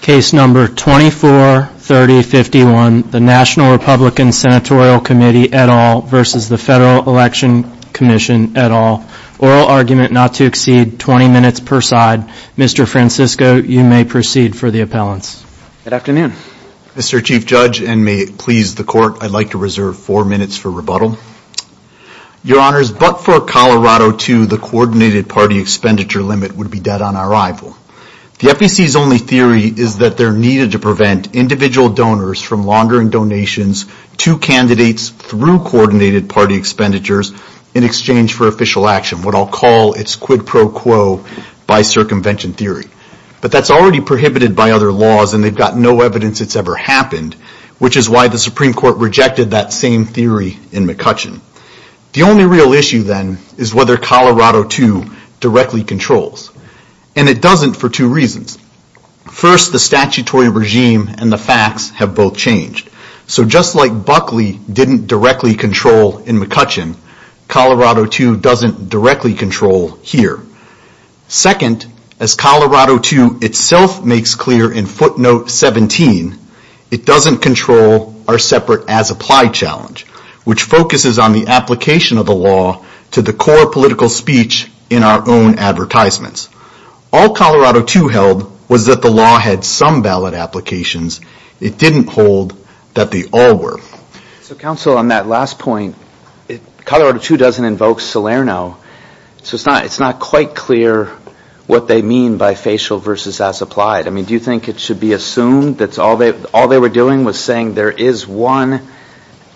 Case number 243051, the National Republican Senatorial Committee et al. versus the Federal Election Commission et al. Oral argument not to exceed 20 minutes per side. Mr. Francisco, you may proceed for the appellants. Good afternoon. Mr. Chief Judge and may it please the court, I'd like to reserve four minutes for rebuttal. Your Honors, but for Colorado too, the coordinated party expenditure limit would be dead on arrival. The FEC's only theory is that they're needed to prevent individual donors from laundering donations to candidates through coordinated party expenditures in exchange for official action, what I'll call its quid pro quo by circumvention theory. But that's already prohibited by other laws and they've got no evidence it's ever happened, which is why the Supreme Court rejected that same theory in McCutcheon. The only real issue then is whether Colorado too directly controls. And it doesn't for two reasons. First, the statutory regime and the facts have both changed. So just like Buckley didn't directly control in McCutcheon, Colorado too doesn't directly control here. Second, as Colorado too itself makes clear in footnote 17, it doesn't control our separate as applied challenge, which focuses on the application of the law to the core political speech in our own advertisements. All Colorado too held was that the law had some valid applications. It didn't hold that they all were. So counsel, on that last point, Colorado too doesn't invoke Salerno, so it's not quite clear what they mean by facial versus as applied. I mean, do you think it should be assumed that all they were doing was saying there is one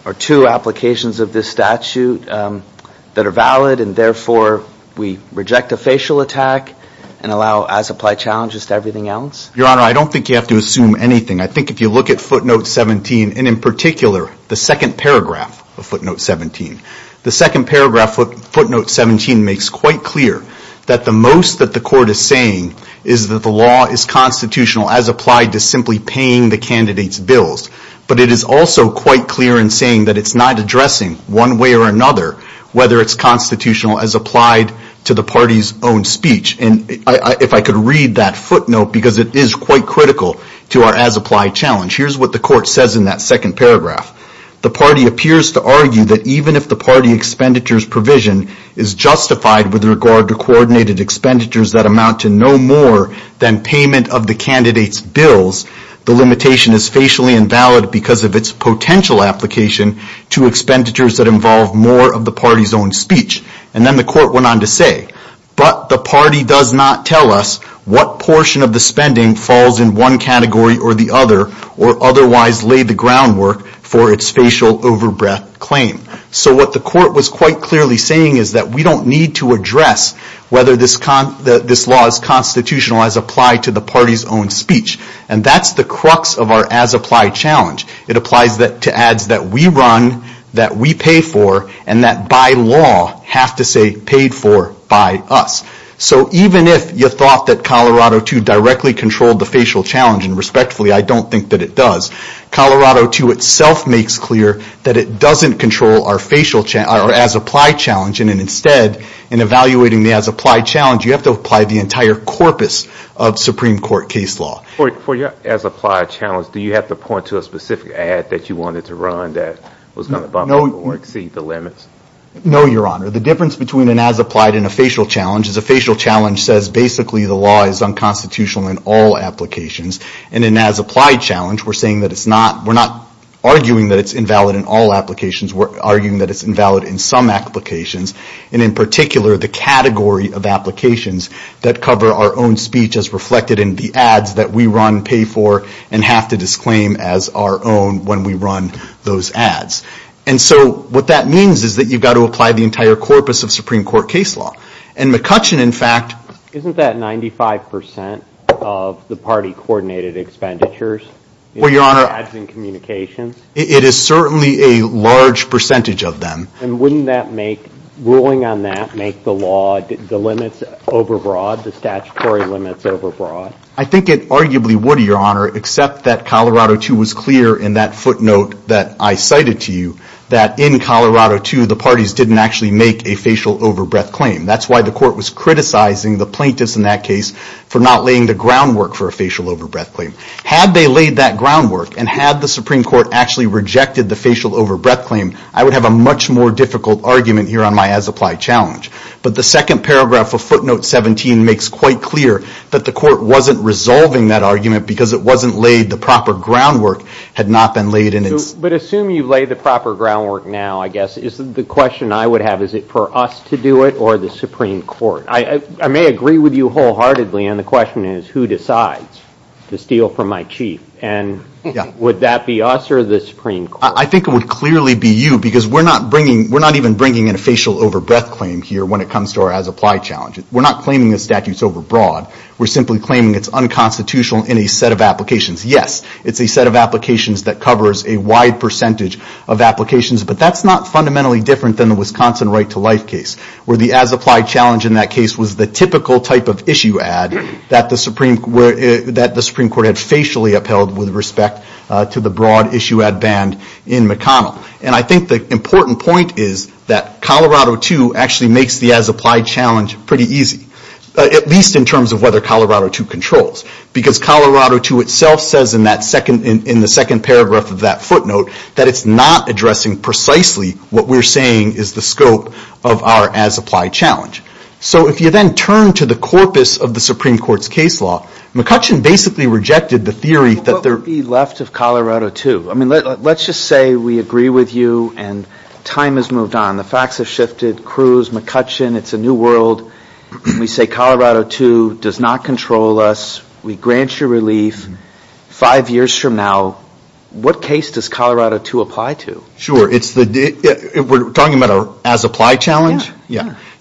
or two applications of this statute that are valid and therefore we reject a facial attack and allow as applied challenges to everything else? Your Honor, I don't think you have to assume anything. I think if you look at footnote 17, and in particular the second paragraph of footnote 17, the second paragraph of footnote 17 makes quite clear that the most that the court is saying is that the law is constitutional as applied to simply paying the candidates bills. But it is also quite clear in saying that it's not addressing one way or another whether it's constitutional as applied to the party's own speech. And if I could read that footnote, because it is quite critical to our as applied challenge, here's what the court says in that second paragraph. The party appears to argue that even if the party expenditures provision is justified with regard to coordinated expenditures that amount to no more than payment of the candidates bills, the limitation is facially invalid because of its potential application to expenditures that involve more of the party's own speech. And then the court went on to say, but the party does not tell us what portion of the spending falls in one category or the other or otherwise lay the groundwork for its facial overbreath claim. So what the court was quite clearly saying is that we don't need to address whether this law is constitutional as applied to the party's own speech. And that's the crux of our as applied challenge. It applies to ads that we run, that we pay for, and that by law have to say paid for by us. So even if you thought that Colorado II directly controlled the facial challenge, and respectfully I don't think that it does, Colorado II itself makes clear that it doesn't control our as applied challenge and instead in evaluating the as applied challenge you have to apply the entire corpus of Supreme Court case law. For your as applied challenge, do you have to point to a specific ad that you wanted to run that was going to bump up or exceed the limits? No, Your Honor. The difference between an as applied and a facial challenge is a facial challenge says basically the law is unconstitutional in all applications. And an as applied challenge, we're saying that it's not, we're not arguing that it's invalid in all applications, we're arguing that it's invalid in some applications. And in particular, the category of applications that cover our own speech as reflected in the ads that we run, pay for, and have to disclaim as our own when we run those ads. And so what that means is that you've got to apply the entire corpus of Supreme Court case law. And McCutcheon, in fact... Isn't that 95% of the party coordinated expenditures? Well, Your Honor... In ads and communications? It is certainly a large percentage of them. And wouldn't that make, ruling on that, make the law, the limits over broad, the statutory limits over broad? I think it arguably would, Your Honor, except that Colorado 2 was clear in that footnote that I cited to you, that in Colorado 2, the parties didn't actually make a facial overbreath claim. That's why the court was criticizing the plaintiffs in that case for not laying the groundwork for a facial overbreath claim. Had they laid that groundwork and had the Supreme Court actually rejected the facial overbreath claim, I would have a much more difficult argument here on my as-applied challenge. But the second paragraph of footnote 17 makes quite clear that the court wasn't resolving that argument because it wasn't laid the proper groundwork had not been laid in its... But assume you've laid the proper groundwork now, I guess, is the question I would have, is it for us to do it or the Supreme Court? I may agree with you wholeheartedly, and the question is, who decides to steal from my chief? And would that be us or the Supreme Court? I think it would clearly be you because we're not bringing, we're not even bringing in a facial overbreath claim here when it comes to our as-applied challenge. We're not claiming the statute's overbroad. We're simply claiming it's unconstitutional in a set of applications. Yes, it's a set of applications that covers a wide percentage of applications, but that's not fundamentally different than the Wisconsin Right to Life case, where the as-applied challenge in that case was the typical type of issue ad that the Supreme Court had facially upheld with respect to the broad issue ad in McConnell. And I think the important point is that Colorado II actually makes the as-applied challenge pretty easy, at least in terms of whether Colorado II controls, because Colorado II itself says in that second, in the second paragraph of that footnote, that it's not addressing precisely what we're saying is the scope of our as-applied challenge. So if you then turn to the corpus of the Supreme Court's case law, McCutcheon basically rejected the theory that there... What would be left of Colorado II? I mean, let's just say we agree with you and time has moved on. The facts have shifted. Cruz, McCutcheon, it's a new world. We say Colorado II does not control us. We grant you relief. Five years from now, what case does Colorado II apply to? Sure. We're talking about our as-applied challenge?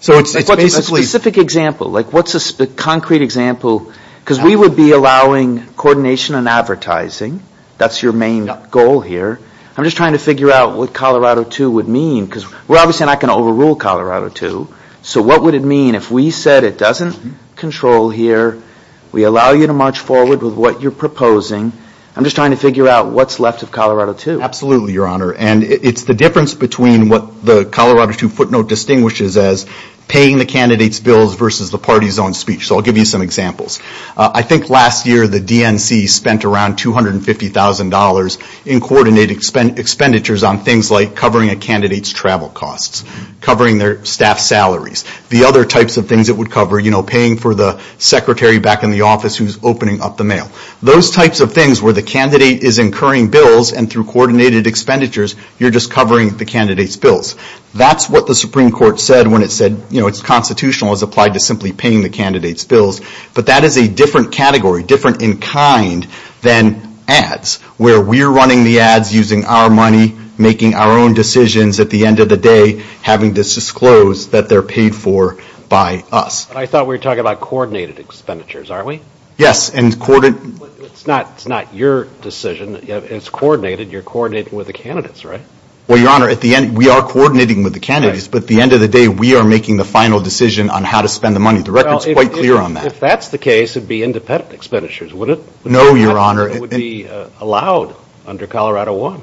So it's basically... A specific example. Like what's a concrete example? Because we would be allowing coordination and advertising. That's your main goal here. I'm just trying to figure out what Colorado II would mean, because we're obviously not going to overrule Colorado II. So what would it mean if we said it doesn't control here? We allow you to march forward with what you're proposing. I'm just trying to figure out what's left of Colorado II. Absolutely, Your Honor. And it's the difference between what the Colorado II footnote distinguishes as paying the candidate's bills versus the party's own So I'll give you some examples. I think last year the DNC spent around $250,000 in coordinated expenditures on things like covering a candidate's travel costs, covering their staff salaries, the other types of things it would cover, you know, paying for the secretary back in the office who's opening up the mail. Those types of things where the candidate is incurring bills and through coordinated expenditures, you're just covering the candidate's bills. That's what the Supreme Court said when it said, you know, it's constitutional as applied to simply paying the candidate's bills. But that is a different category, different in kind than ads, where we're running the ads using our money, making our own decisions at the end of the day, having to disclose that they're paid for by us. I thought we were talking about coordinated expenditures, aren't we? Yes, and coordinated... It's not your decision. It's coordinated. You're coordinating with the candidates, right? Well, Your Honor, at the end, we are coordinating with the candidates, but at the end of the day, we are making the final decision on how to spend the money. The record is quite clear on that. If that's the case, it would be independent expenditures, wouldn't it? No, Your Honor. It would be allowed under Colorado I.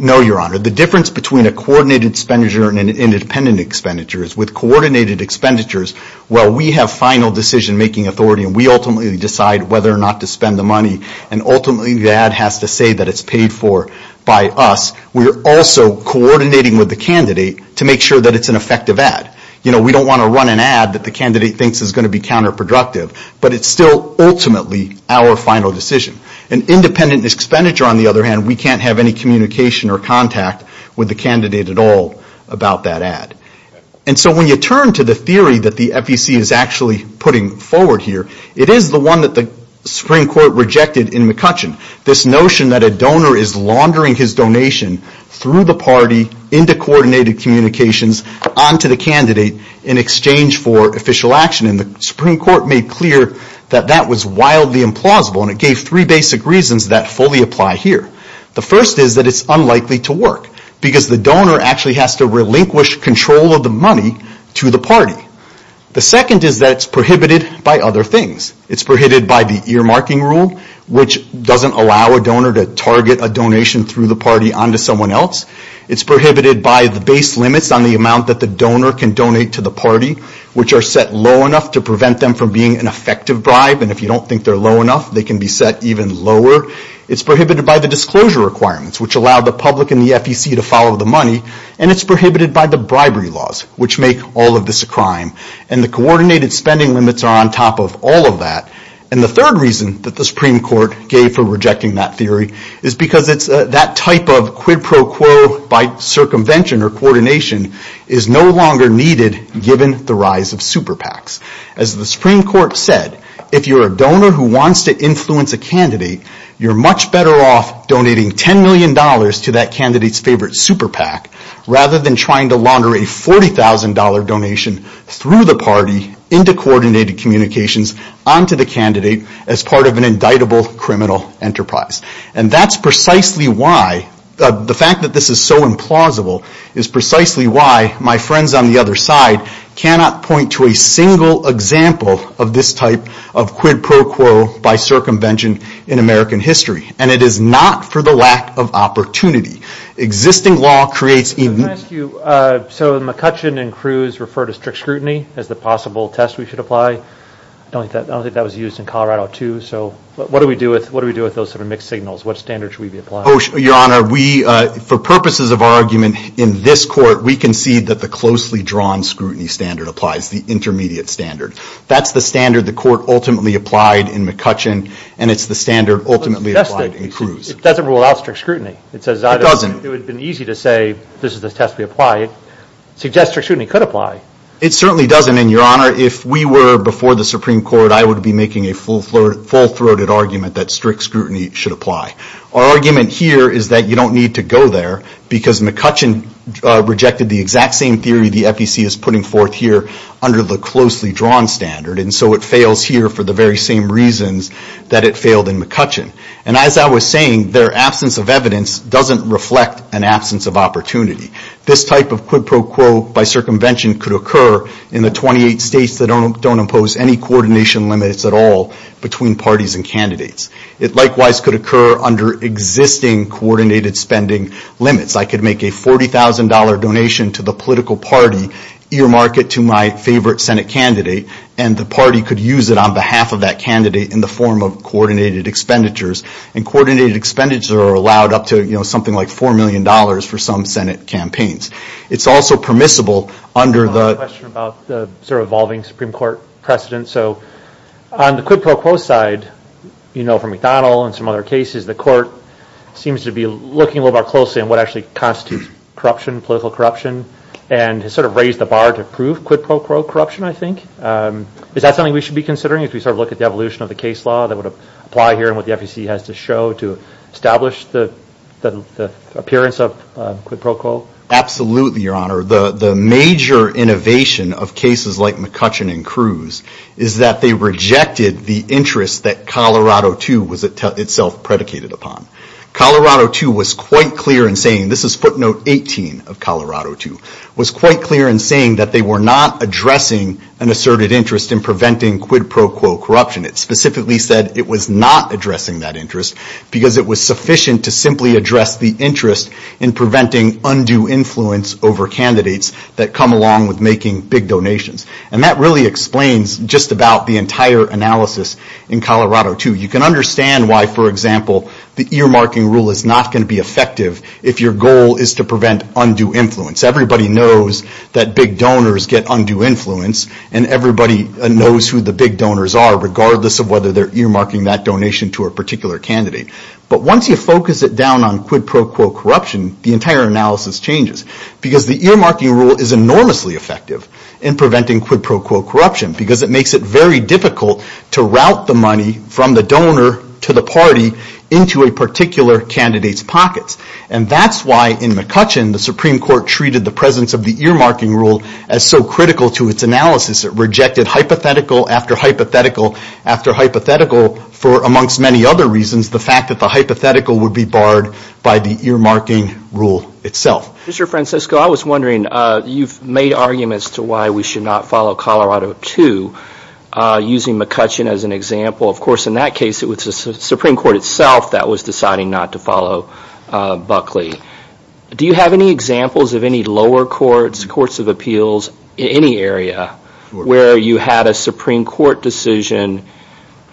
No, Your Honor. The difference between a coordinated expenditure and an independent expenditure is with coordinated expenditures, while we have final decision-making authority and we ultimately decide whether or not to spend the money and ultimately the ad has to say that it's paid for by us, we're also coordinating with the candidate to make sure that it's an effective ad. We don't want to run an ad that the candidate thinks is going to be counterproductive, but it's still ultimately our final decision. An independent expenditure, on the other hand, we can't have any communication or contact with the candidate at all about that ad. And so when you turn to the theory that the FEC is actually putting forward here, it is the one that the Supreme Court rejected in McCutcheon. This notion that a donor is laundering his donation through the party into coordinated communications onto the candidate in exchange for official action. And the Supreme Court made clear that that was wildly implausible and it gave three basic reasons that fully apply here. The first is that it's unlikely to work because the donor actually has to relinquish control of the money to the party. The second is that it's prohibited by other things. It's prohibited by the earmarking rule, which doesn't allow a donor to target a donation through the party onto someone else. It's prohibited by the base limits on the amount that the donor can donate to the party, which are set low enough to prevent them from being an effective bribe. And if you don't think they're low enough, they can be set even lower. It's prohibited by the disclosure requirements, which allow the public and the FEC to follow the money. And it's prohibited by the bribery laws, which make all of this a crime. And the coordinated spending limits are on top of all of that. And the third reason that the Supreme Court gave for rejecting that theory is because that type of quid pro quo by circumvention or coordination is no longer needed given the rise of super PACs. As the Supreme Court said, if you're a donor who wants to influence a candidate, you're much better off donating $10 million to that candidate's favorite super PAC, rather than trying to launder a $40,000 donation through the party into coordinated communications onto the candidate as part of an indictable criminal enterprise. And that's precisely why, the fact that this is so implausible, is precisely why my friends on the other side cannot point to a single example of this type of quid pro quo by circumvention in American history. And it is not for the lack of opportunity. Existing law creates... So McCutcheon and Cruz refer to strict scrutiny as the possible test we should apply. I don't think that was used in Colorado too. So what do we do with what do we do with those sort of mixed signals? What standards should we be applying? Your Honor, we, for purposes of our argument in this court, we concede that the closely drawn scrutiny standard applies, the intermediate standard. That's the standard the court ultimately applied in McCutcheon, and it's the standard ultimately applied in Cruz. It doesn't rule out strict scrutiny. It says... It doesn't. It would have been easy to say this is the test we apply. It suggests strict scrutiny could apply. It certainly doesn't, and Your Honor, if we were before the Supreme Court, I would be making a full-throated argument that strict scrutiny should apply. Our argument here is that you don't need to go there because McCutcheon rejected the exact same theory the FDC is putting forth here under the closely drawn standard, and so it fails here for the very same reasons that it failed in McCutcheon. And as I was saying, their absence of evidence doesn't reflect an absence of opportunity. This type of quid pro quo by circumvention could occur in the 28 states that don't impose any coordination limits at all between parties and candidates. It likewise could occur under existing coordinated spending limits. I could make a $40,000 donation to the political party, earmark it to my favorite Senate candidate, and the party could use it on behalf of that candidate in the form of coordinated expenditures. And coordinated expenditures are allowed up to, you know, something like $4 million for some Senate campaigns. It's also permissible under the... I have a question about the sort of evolving Supreme Court precedent. So on the quid pro quo side, you know from McDonnell and some other cases, the court seems to be looking a little bit more closely at what actually constitutes corruption, political corruption, and has sort of raised the bar to prove quid pro quo corruption, I think. Is that something we should be considering as we sort of look at the solution of the case law that would apply here and what the FEC has to show to establish the appearance of quid pro quo? Absolutely, Your Honor. The major innovation of cases like McCutcheon and Cruz is that they rejected the interest that Colorado II was itself predicated upon. Colorado II was quite clear in saying, this is footnote 18 of Colorado II, was quite clear in saying that they were not addressing an asserted interest in preventing quid pro quo corruption. It specifically said it was not addressing that interest because it was sufficient to simply address the interest in preventing undue influence over candidates that come along with making big donations. And that really explains just about the entire analysis in Colorado II. You can understand why, for example, the earmarking rule is not going to be effective if your goal is to prevent undue influence. Everybody knows that big donors get undue influence and everybody knows who the big donors are regardless of whether they're earmarking that donation to a particular candidate. But once you focus it down on quid pro quo corruption, the entire analysis changes. Because the earmarking rule is enormously effective in preventing quid pro quo corruption because it makes it very difficult to route the money from the donor to the party into a particular candidate's pockets. And that's why in McCutcheon the Supreme Court treated the presence of the earmarking rule as so critical to its analysis. It rejected hypothetical after hypothetical after hypothetical for amongst many other reasons the fact that the hypothetical would be barred by the earmarking rule itself. Mr. Francisco, I was wondering, you've made arguments to why we should not follow Colorado II using McCutcheon as an example. Of course, in that case it was the Supreme Court itself that was deciding not to follow Buckley. Do you have any examples of any lower courts, courts of appeals, in any area where you had a Supreme Court decision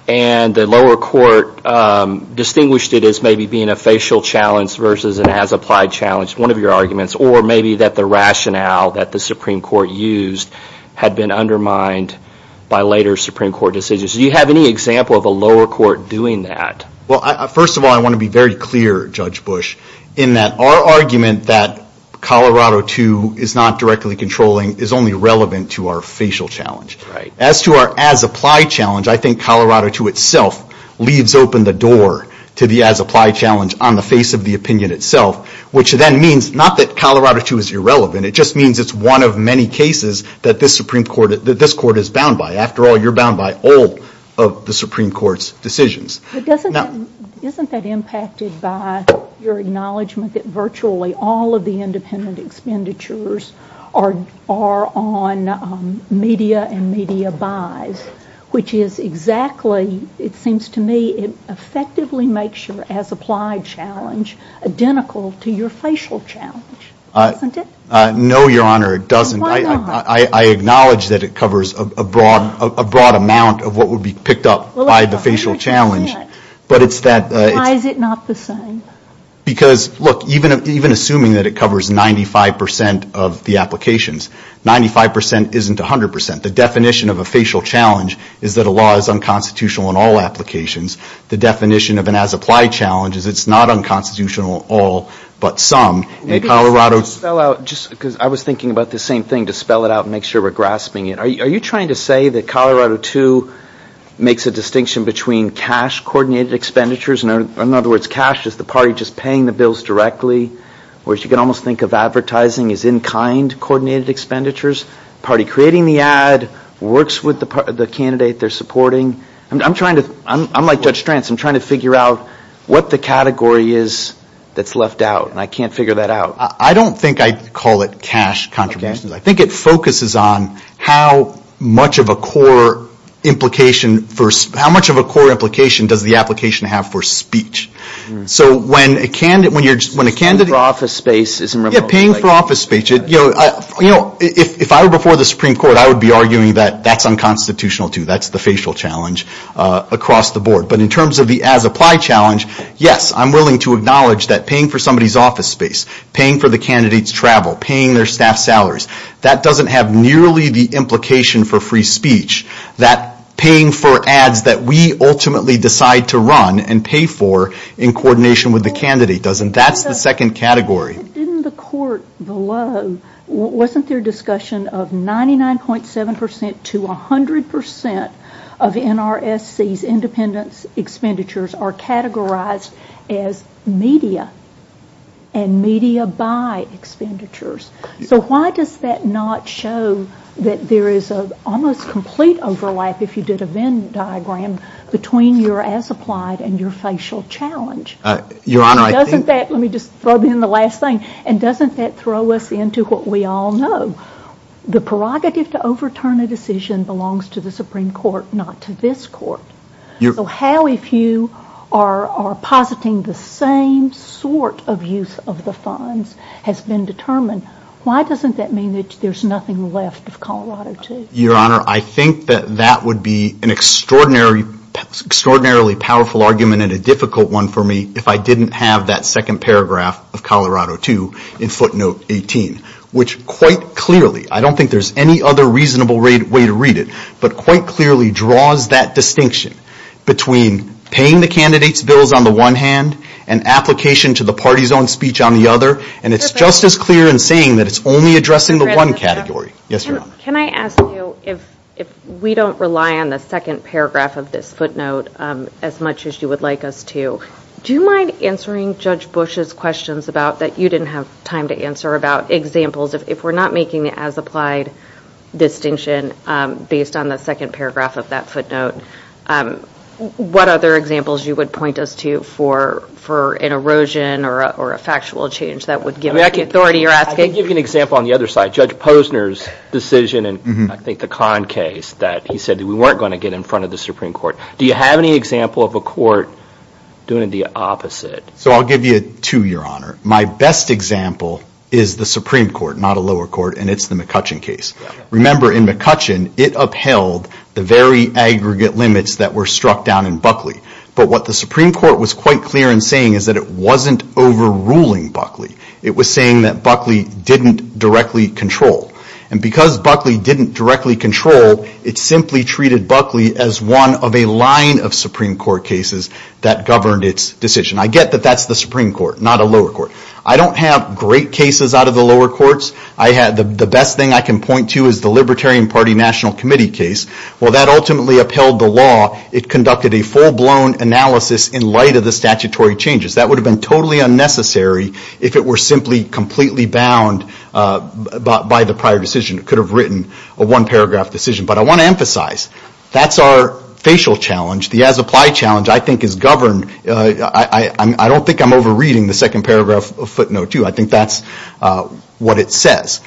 and the lower court distinguished it as maybe being a facial challenge versus an as-applied challenge, one of your arguments, or maybe that the rationale that the Supreme Court used had been undermined by later Supreme Court decisions? Do you have any example of a lower court doing that? Well, first of all, I want to be very clear, Judge Bush, in that our argument that Colorado II is not directly controlling is only relevant to our facial challenge. As to our as-applied challenge, I think Colorado II itself leaves open the door to the as-applied challenge on the face of the opinion itself, which then means not that Colorado II is irrelevant, it just means it's one of many cases that this Supreme Court, that this Court is bound by. After all, you're bound by all of the Supreme Court's decisions. Isn't that impacted by your acknowledgement that virtually all of the independent expenditures are on media and media buys, which is exactly, it seems to me, it effectively makes your as-applied challenge identical to your facial challenge, doesn't it? No, Your Honor, it doesn't. I acknowledge that it covers a broad amount of what would be picked up by the facial challenge, but it's Why is it not the same? Because, look, even assuming that it covers 95% of the applications, 95% isn't 100%. The definition of a facial challenge is that a law is unconstitutional in all applications. The definition of an as-applied challenge is it's not unconstitutional in all, but some. Maybe just to spell out, because I was thinking about the same thing, to spell it out and make sure we're grasping it. Are you trying to say that Colorado II makes a distinction between cash-coordinated expenditures? In other words, cash is the party just paying the bills directly, whereas you can almost think of advertising as in-kind-coordinated expenditures. The party creating the ad works with the candidate they're supporting. I'm trying to, I'm like Judge Stranz, I'm trying to figure out what the category is that's left out, and I can't figure that out. I don't think I'd call it cash contributions. I think it focuses on how much of a core implication does the application have for speech. Paying for office space isn't really like... Yeah, paying for office space. If I were before the Supreme Court, I would be arguing that that's unconstitutional too. That's the facial challenge across the board. In terms of the as-applied challenge, yes, I'm willing to acknowledge that paying for somebody's office space, paying for the candidate's travel, paying their staff salaries, that doesn't have nearly the implication for free speech that paying for ads that we ultimately decide to run and pay for in coordination with the candidate does, and that's the second category. Didn't the court below, wasn't there discussion of 99.7% to 100% of NRSC's independence expenditures are categorized as media and media by expenditures? So why does that not show that there is an almost complete overlap, if you did a Venn diagram, between your as-applied and your facial challenge? Your Honor, I think... Doesn't that, let me just throw in the last thing, and doesn't that throw us into what we all know? The prerogative to overturn a decision belongs to the Supreme Court, not to this court. So how, if you are positing the same sort of use of the funds has been determined, why doesn't that mean that there's nothing left of Colorado II? Your Honor, I think that that would be an extraordinarily powerful argument and a difficult one for me if I didn't have that second paragraph of Colorado II in footnote 18, which quite clearly, I don't think there's any other reasonable way to read it, but quite clearly draws that distinction between paying the candidate's bills on the one hand, and application to the party's own speech on the other, and it's just as clear in saying that it's only addressing the one category. Can I ask you, if we don't rely on the second paragraph of this footnote as much as you would like us to, do you mind answering Judge Bush's questions about, that you didn't have time to answer, about examples of, if we're not making as applied distinction based on the second paragraph of that footnote, what other examples you would point us to for an erosion or a factual change that would give us the authority, you're asking? I can give you an example on the other side. Judge Posner's decision in, I think, the Kahn case, that he said we weren't going to get in front of the Supreme Court. Do you have any example of a court doing the opposite? So I'll give you two, Your Honor. My best example is the Supreme Court, not a McCutcheon case. Remember, in McCutcheon, it upheld the very aggregate limits that were struck down in Buckley. But what the Supreme Court was quite clear in saying is that it wasn't overruling Buckley. It was saying that Buckley didn't directly control. And because Buckley didn't directly control, it simply treated Buckley as one of a line of Supreme Court cases that governed its decision. I get that that's the Supreme Court, not a lower court. I don't have great cases out of the lower courts. The best thing I can point to is the Libertarian Party National Committee case. Well, that ultimately upheld the law. It conducted a full-blown analysis in light of the statutory changes. That would have been totally unnecessary if it were simply completely bound by the prior decision. It could have written a one-paragraph decision. But I want to emphasize, that's our facial challenge. The as-applied challenge, I think, is governed. I don't think I'm overreading the second paragraph of footnote two. I think that's what it says.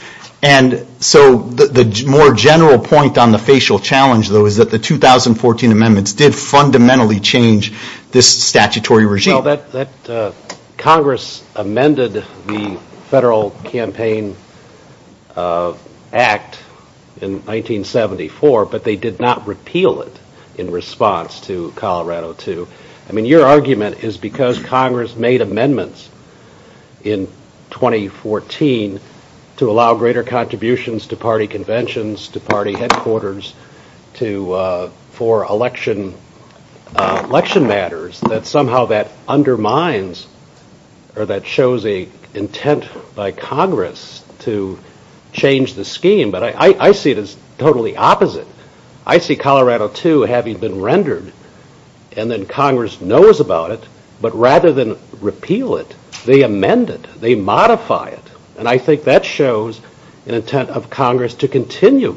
So the more general point on the facial challenge, though, is that the 2014 amendments did fundamentally change this statutory regime. Congress amended the Federal Campaign Act in 1974, but they did not repeal it in response to Colorado II. Your argument is because Congress made amendments in 2014 to allow greater contributions to party conventions, to party headquarters, for election matters, that somehow that undermines or that shows an intent by Congress to change the scheme. But I see it as totally opposite. I see Colorado II having been rendered, and then Congress knows about it, but rather than repeal it, they amend it. They modify it. And I think that shows an intent of Congress to continue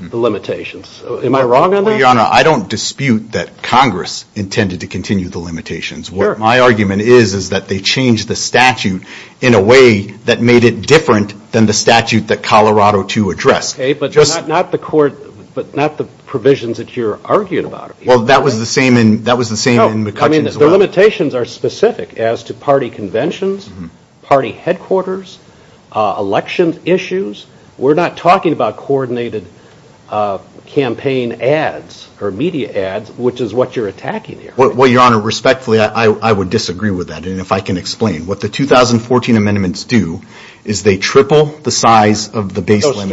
the limitations. Am I wrong on that? Your Honor, I don't dispute that Congress intended to continue the limitations. What my argument is, is that they changed the statute in a way that made it different than the statute that Colorado II addressed. Okay, but not the provisions that you're arguing about. Well, that was the same in McCutcheon as well. No, the limitations are specific as to party conventions, party headquarters, election issues. We're not talking about coordinated campaign ads or media ads, which is what you're attacking here. Well, Your Honor, respectfully, I would disagree with that, and if I can explain. What the 2014 amendments do is they triple the size of the base limits. Those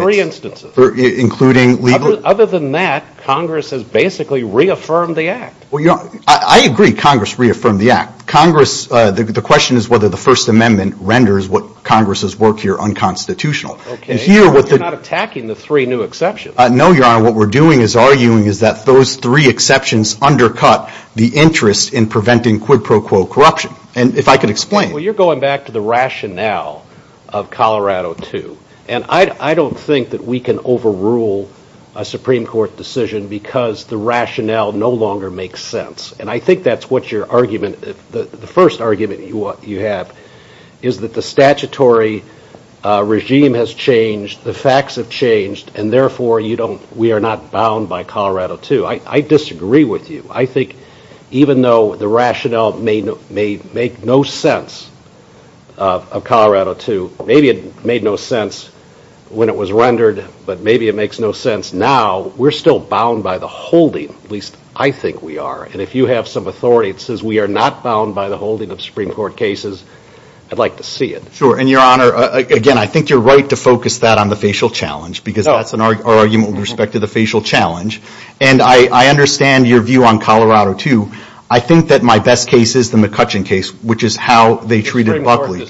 three instances. Other than that, Congress has basically reaffirmed the act. Well, I agree Congress reaffirmed the act. The question is whether the First Amendment renders what Congress has worked here unconstitutional. Okay, but you're not attacking the three new exceptions. No, Your Honor, what we're doing is arguing is that those three exceptions undercut the interest in preventing quid pro quo corruption. And if I could explain. Well, you're going back to the rationale of Colorado II, and I don't think that we can overrule a Supreme Court decision because the rationale no longer makes sense. And I think that's what your argument, the first argument you have, is that the statutory regime has changed, the facts have changed, and therefore we are not bound by Colorado II. I disagree with you. I think even though the rationale may make no sense of Colorado II, maybe it made no sense when it was rendered, but maybe it makes no sense now, we're still bound by the holding, at least I think we are. And if you have some authority that says we are not bound by the holding of Supreme Court cases, I'd like to see it. Sure, and Your Honor, again, I think you're right to focus that on the facial challenge because that's our argument with respect to the facial challenge. And I understand your view on Colorado II. I think that my best case is the McCutcheon case, which is how they treated Buckley. I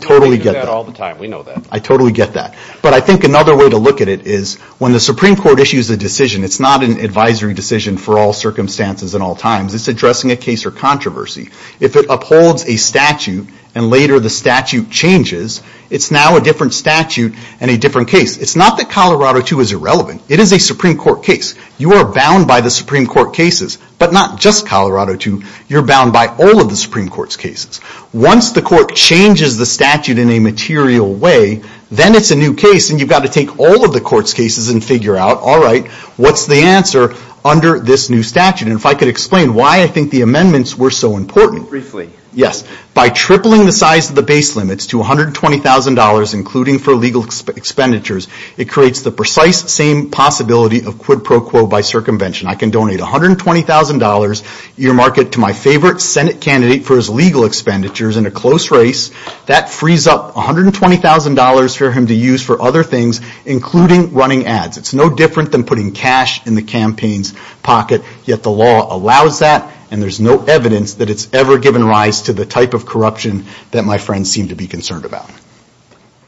totally get that. I totally get that. But I think another way to look at it is when the Supreme Court issues a decision, it's not an advisory decision for all circumstances and all times. It's addressing a case or controversy. If it upholds a statute and later the statute changes, it's now a different statute and a different case. It's not that Colorado II is irrelevant. It is a Supreme Court case. You are bound by the Supreme Court cases, but not just Colorado II. You're bound by the Supreme Court cases. Once the court changes the statute in a material way, then it's a new case and you've got to take all of the court's cases and figure out, all right, what's the answer under this new statute. And if I could explain why I think the amendments were so important. Briefly. Yes. By tripling the size of the base limits to $120,000, including for legal expenditures, it creates the precise same possibility of quid pro quo by circumvention. I can donate $120,000, your market, to my favorite Senate candidate for his legal expenditures in a close race. That frees up $120,000 for him to use for other things, including running ads. It's no different than putting cash in the campaign's pocket, yet the law allows that and there's no evidence that it's ever given rise to the type of corruption that my friends seem to be concerned about.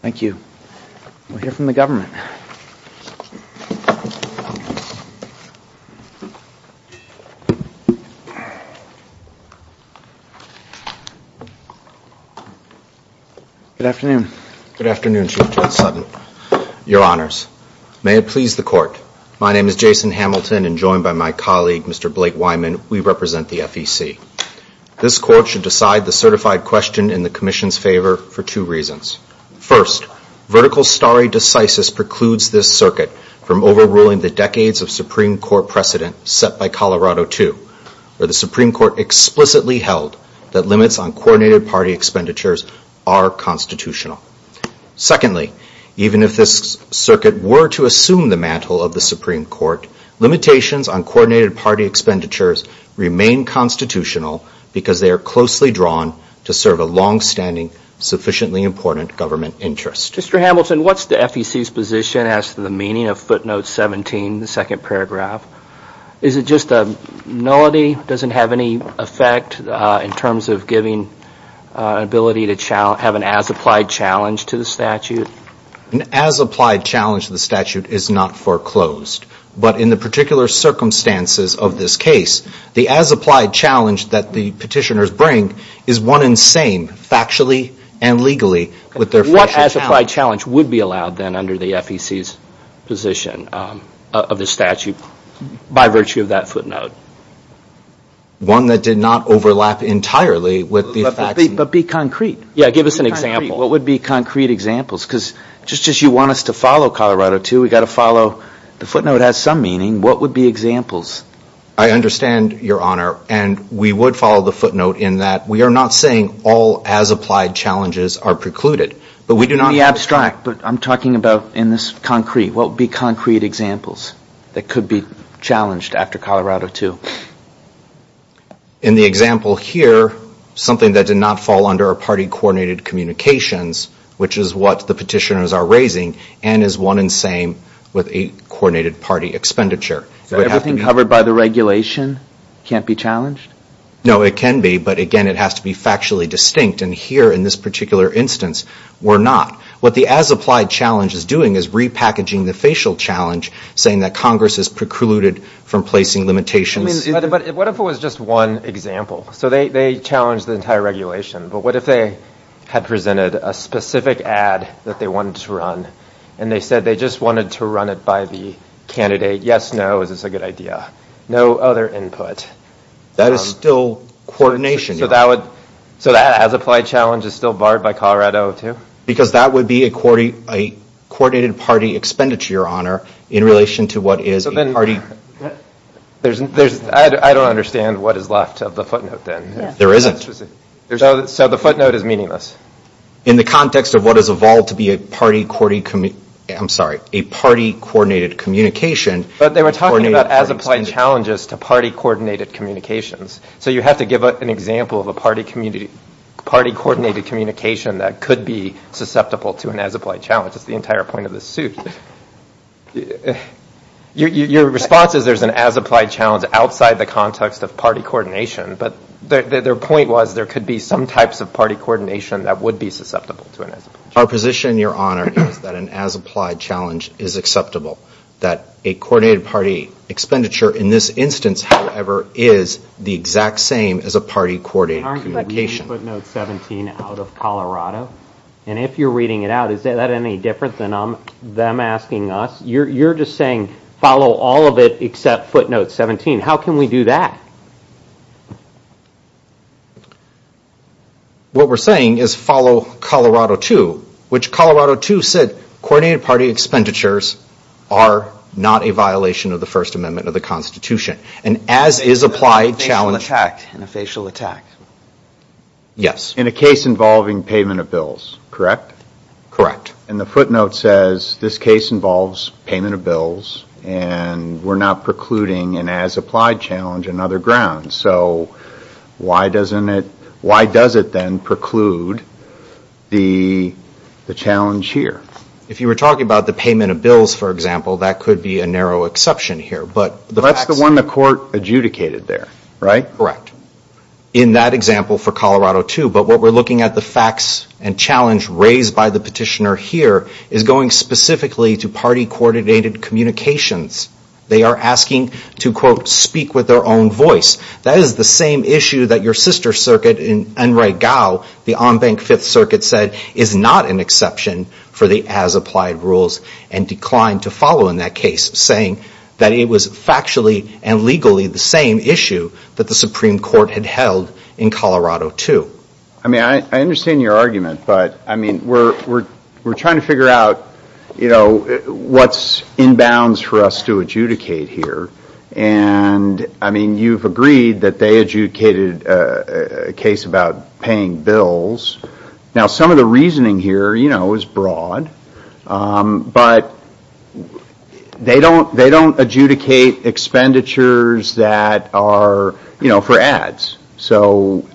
Thank you. We'll hear from the government. Good afternoon. Good afternoon, Chief Judge Sutton. Your Honors, may it please the court, my name is Jason Hamilton and joined by my colleague, Mr. Blake Wyman, we represent the FEC. This court should decide the certified question in the Commission's favor for two reasons. First, vertical stare decisis precludes this circuit from overruling the decades of Supreme Court precedent set by Colorado II, where the Supreme Court explicitly held that limits on coordinated party expenditures are constitutional. Secondly, even if this circuit were to assume the mantle of the Supreme Court, limitations on coordinated party expenditures remain constitutional because they are closely drawn to serve a long-standing, sufficiently important government interest. Mr. Hamilton, what's the FEC's position as to the meaning of note 17, the second paragraph? Is it just a nullity, doesn't have any effect in terms of giving an ability to have an as-applied challenge to the statute? An as-applied challenge to the statute is not foreclosed, but in the particular circumstances of this case, the as-applied challenge that the petitioners bring is one and same, factually and legally, with their as-applied challenge would be allowed then under the FEC's position of the statute by virtue of that footnote. One that did not overlap entirely with the facts. But be concrete. Yeah, give us an example. What would be concrete examples? Because just as you want us to follow Colorado II, we've got to follow, the footnote has some meaning, what would be examples? I understand, Your Honor, and we would follow the footnote in that we are not saying all as-applied challenges are precluded, but we do not... Be abstract, but I'm talking about in this concrete, what would be concrete examples that could be challenged after Colorado II? In the example here, something that did not fall under our party-coordinated communications, which is what the petitioners are raising, and is one and same with a coordinated party expenditure. So everything covered by the regulation can't be challenged? No, it can be, but again it has to be factually distinct, and here in this particular instance, we're not. What the as-applied challenge is doing is repackaging the facial challenge, saying that Congress is precluded from placing limitations. But what if it was just one example? So they challenged the entire regulation, but what if they had presented a specific ad that they wanted to run, and they said they just wanted to run it by the candidate, yes, no, is this a good idea? No other input. That is still coordination. So that as-applied challenge is still barred by Colorado II? Because that would be a coordinated party expenditure, your honor, in relation to what is a party... I don't understand what is left of the footnote then. There isn't. So the footnote is meaningless? In the context of what has evolved to be a party-coordinated communication... But they were talking about as-applied challenges to party-coordinated communications. So you have to give an example of a party-coordinated communication that could be susceptible to an as-applied challenge. It's the entire point of this suit. Your response is there's an as-applied challenge outside the context of party coordination, but their point was there could be some types of party coordination that would be susceptible to an as-applied challenge. Our position, your honor, is that an as-applied challenge is acceptable. That a coordinated party expenditure in this instance, however, is the exact same as a party-coordinated communication. Aren't you reading footnote 17 out of Colorado? And if you're reading it out, is that any different than them asking us? You're just saying follow all of it except footnote 17. How can we do that? What we're saying is follow Colorado II, which Colorado II said coordinated party expenditures are not a violation of the First Amendment of the Constitution. And as is applied challenge... And a facial attack. Yes. In a case involving payment of bills, correct? Correct. And the footnote says this case involves payment of bills and we're not precluding an as-applied challenge on other grounds. So why doesn't it, why does it then preclude the challenge here? If you were talking about the payment of bills, for example, that could be a narrow exception here. But that's the one the court adjudicated there, right? Correct. In that example for Colorado II, but what we're looking at the facts and challenge raised by the petitioner here is going specifically to party-coordinated communications. They are asking to, quote, speak with their own voice. That is the same issue that your sister circuit in Enright Gow, the on-bank Fifth Circuit said is not an exception for the as-applied rules and declined to follow in that case, saying that it was factually and legally the same issue that the Supreme Court had held in Colorado II. I mean, I understand your argument, but, I mean, we're trying to figure out, you know, what's in bounds for us to adjudicate here. And, I mean, you've agreed that they adjudicated a case about paying bills. Now, some of the reasoning here, you know, is broad, but they don't adjudicate expenditures that are, you know, for ads. So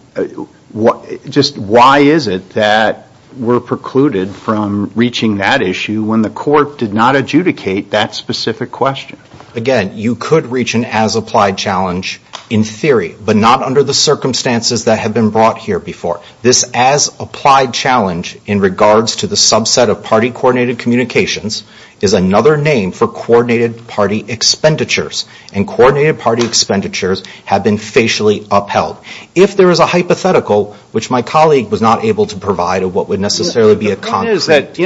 just why is it that we're precluded from reaching that issue when the court did not adjudicate that specific question? Again, you could reach an as-applied challenge in theory, but not under the circumstances that have been brought here before. This as-applied challenge in regards to the subset of party-coordinated communications is another name for coordinated party expenditures. And coordinated party expenditures have been facially upheld. If there is a hypothetical, which my colleague was not able to provide of what would necessarily be a concrete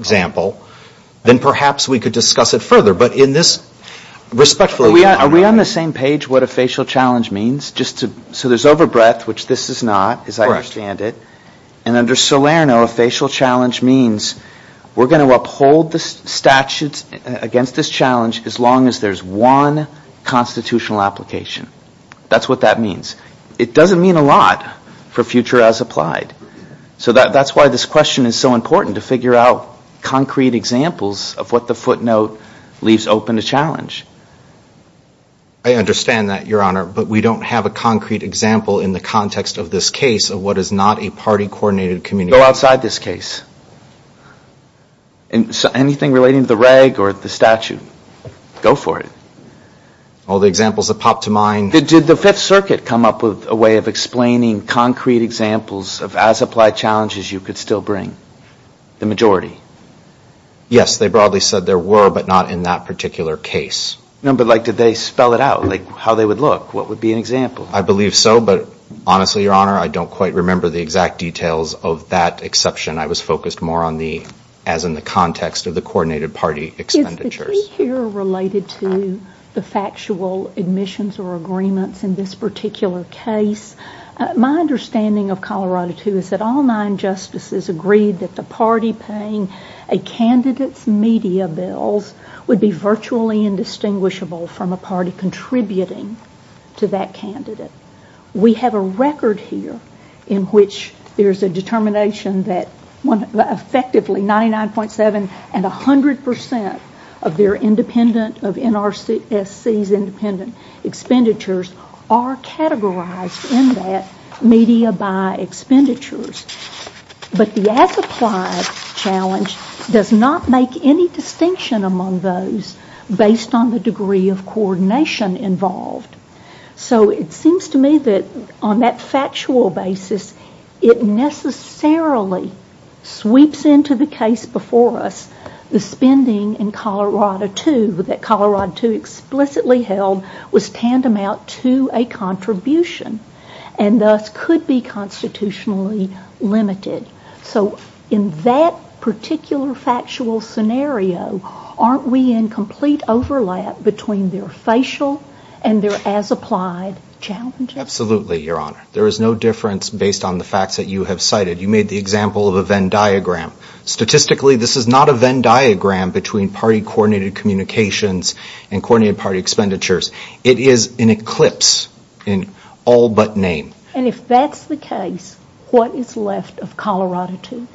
example, then perhaps we could discuss it further. But in this, respectfully, your Honor. Are we on the same page what a facial challenge means? So there's over-breath, which this is not, as I understand it. And under Salerno, a facial challenge means we're going to uphold the statutes against this challenge as long as there's one constitutional application. That's what that means. It doesn't mean a lot for future as-applied. So that's why this question is so important, to figure out concrete examples of what the footnote leaves open to challenge. I understand that, your Honor. But we don't have a concrete example in the context of this case of what is not a party-coordinated communication. Go outside this case. Anything relating to the reg or the statute, go for it. All the examples that pop to mind? Did the Fifth Circuit come up with a way of explaining concrete examples of as-applied challenges you could still bring? The majority? Yes. They broadly said there were, but not in that particular case. No, but like did they spell it out? Like how they would look? What would be an example? I believe so. But honestly, your Honor, I don't quite remember the exact details of that exception. I was focused more on the, as in the context of the coordinated party expenditures. Is the key here related to the factual admissions or agreements in this particular case? My understanding of Colorado II is that all nine justices agreed that the party paying a candidate's media bills would be virtually indistinguishable from a party contributing to that candidate. We have a record here in which there is a determination that effectively 99.7 and 100 percent of their independent, of NRSC's independent expenditures are categorized in that media by expenditures. But the as-applied challenge does not make any distinction among those based on the degree of coordination involved. So it seems to me that on that factual basis, it necessarily sweeps into the case before us the spending in Colorado II that Colorado II explicitly held was tantamount to a contribution and thus could be constitutionally limited. So in that particular factual scenario, aren't we in complete overlap between their facial and their as-applied challenges? Absolutely, your Honor. There is no difference based on the facts that you have cited. You This is not a Venn diagram between party-coordinated communications and coordinated party expenditures. It is an eclipse in all but name. And if that's the case, what is left of Colorado II?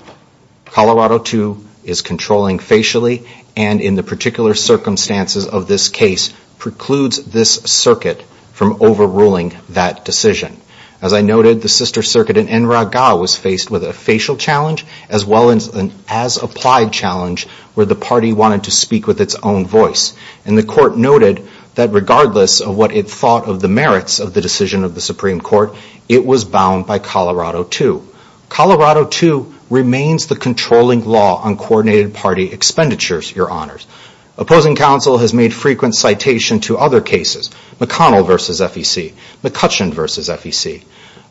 Colorado II is controlling facially and in the particular circumstances of this case precludes this circuit from overruling that decision. As I noted, the sister circuit in was faced with a facial challenge as well as an as-applied challenge where the party wanted to speak with its own voice. And the Court noted that regardless of what it thought of the merits of the decision of the Supreme Court, it was bound by Colorado II. Colorado II remains the controlling law on coordinated party expenditures, your Honors. Opposing counsel has made frequent citation to other cases. McConnell v. FEC. McCutcheon v.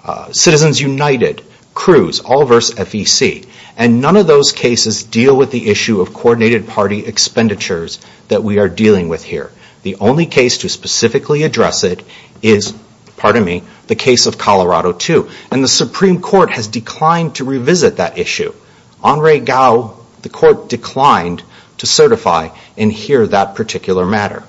FEC. Citizens United. Cruz. All v. FEC. And none of those cases deal with the issue of coordinated party expenditures that we are dealing with here. The only case to specifically address it is, pardon me, the case of Colorado II. And the Supreme Court has declined to revisit that issue. Henri Gou, the Court declined to certify in here that particular matter.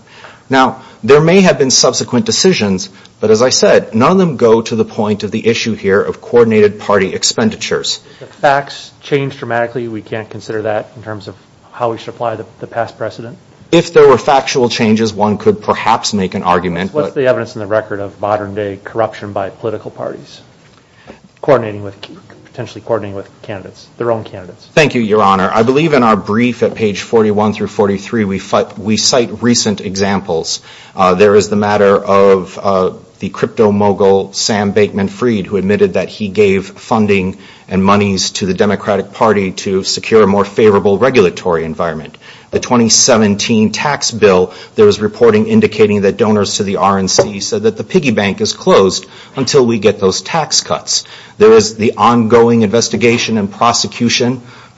Now there may have been subsequent decisions, but as I said, none of them go to the point of the issue here of coordinated party expenditures. If facts change dramatically, we can't consider that in terms of how we should apply the past precedent? If there were factual changes, one could perhaps make an argument. What's the evidence in the record of modern-day corruption by political parties coordinating with, potentially coordinating with candidates, their own candidates? Thank you, Your Honor. I believe in our brief at page 41 through 43, we cite recent examples. There is the matter of the crypto mogul, Sam Bateman Freed, who admitted that he gave funding and monies to the Democratic Party to secure a more favorable regulatory environment. The 2017 tax bill, there was reporting indicating that donors to the RNC said that the piggy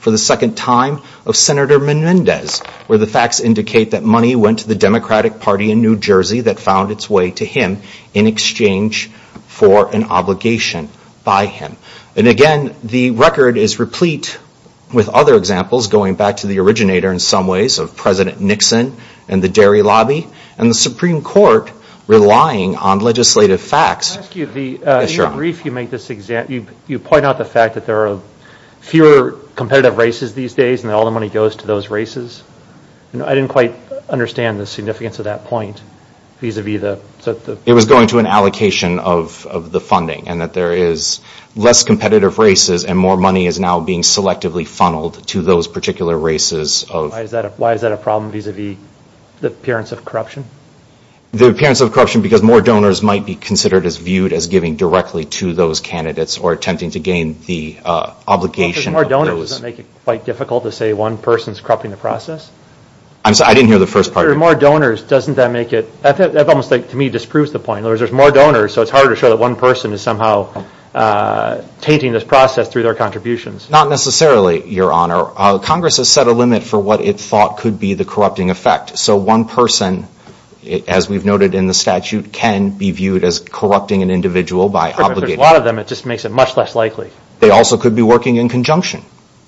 for the second time of Senator Menendez, where the facts indicate that money went to the Democratic Party in New Jersey that found its way to him in exchange for an obligation by him. And again, the record is replete with other examples, going back to the originator in some ways of President Nixon and the dairy lobby, and the Supreme Court relying on legislative facts. Can I ask you, in your brief, you point out the fact that there are fewer competitive races these days and all the money goes to those races. I didn't quite understand the significance of that point vis-a-vis the... It was going to an allocation of the funding and that there is less competitive races and more money is now being selectively funneled to those particular races of... Why is that a problem vis-a-vis the appearance of corruption? The appearance of corruption because more donors might be considered as viewed as giving directly to those candidates or attempting to gain the obligation of those... Because more donors doesn't make it quite difficult to say one person is corrupting the process? I'm sorry, I didn't hear the first part of you. More donors, doesn't that make it, that almost to me disproves the point. In other words, there's more donors so it's harder to show that one person is somehow tainting this process through their contributions. Not necessarily, Your Honor. Congress has set a limit for what it thought could be the So one person, as we've noted in the statute, can be viewed as corrupting an individual by obligating... There's a lot of them, it just makes it much less likely. They also could be working in conjunction,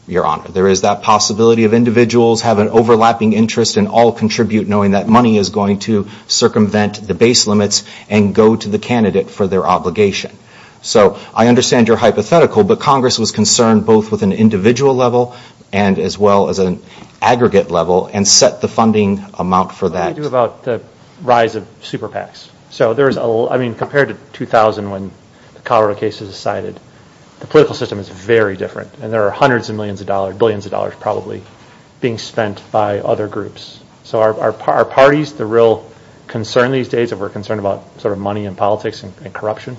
Your Honor. There is that possibility of individuals have an overlapping interest and all contribute knowing that money is going to circumvent the base limits and go to the candidate for their obligation. So I understand your hypothetical, but Congress was concerned both with an individual level and as well as an aggregate level and set the funding amount for that. What do you do about the rise of super PACs? So there's a, I mean compared to 2000 when the Colorado case was decided, the political system is very different and there are hundreds of millions of dollars, billions of dollars probably being spent by other groups. So are parties the real concern these days? Are we concerned about sort of money and politics and corruption?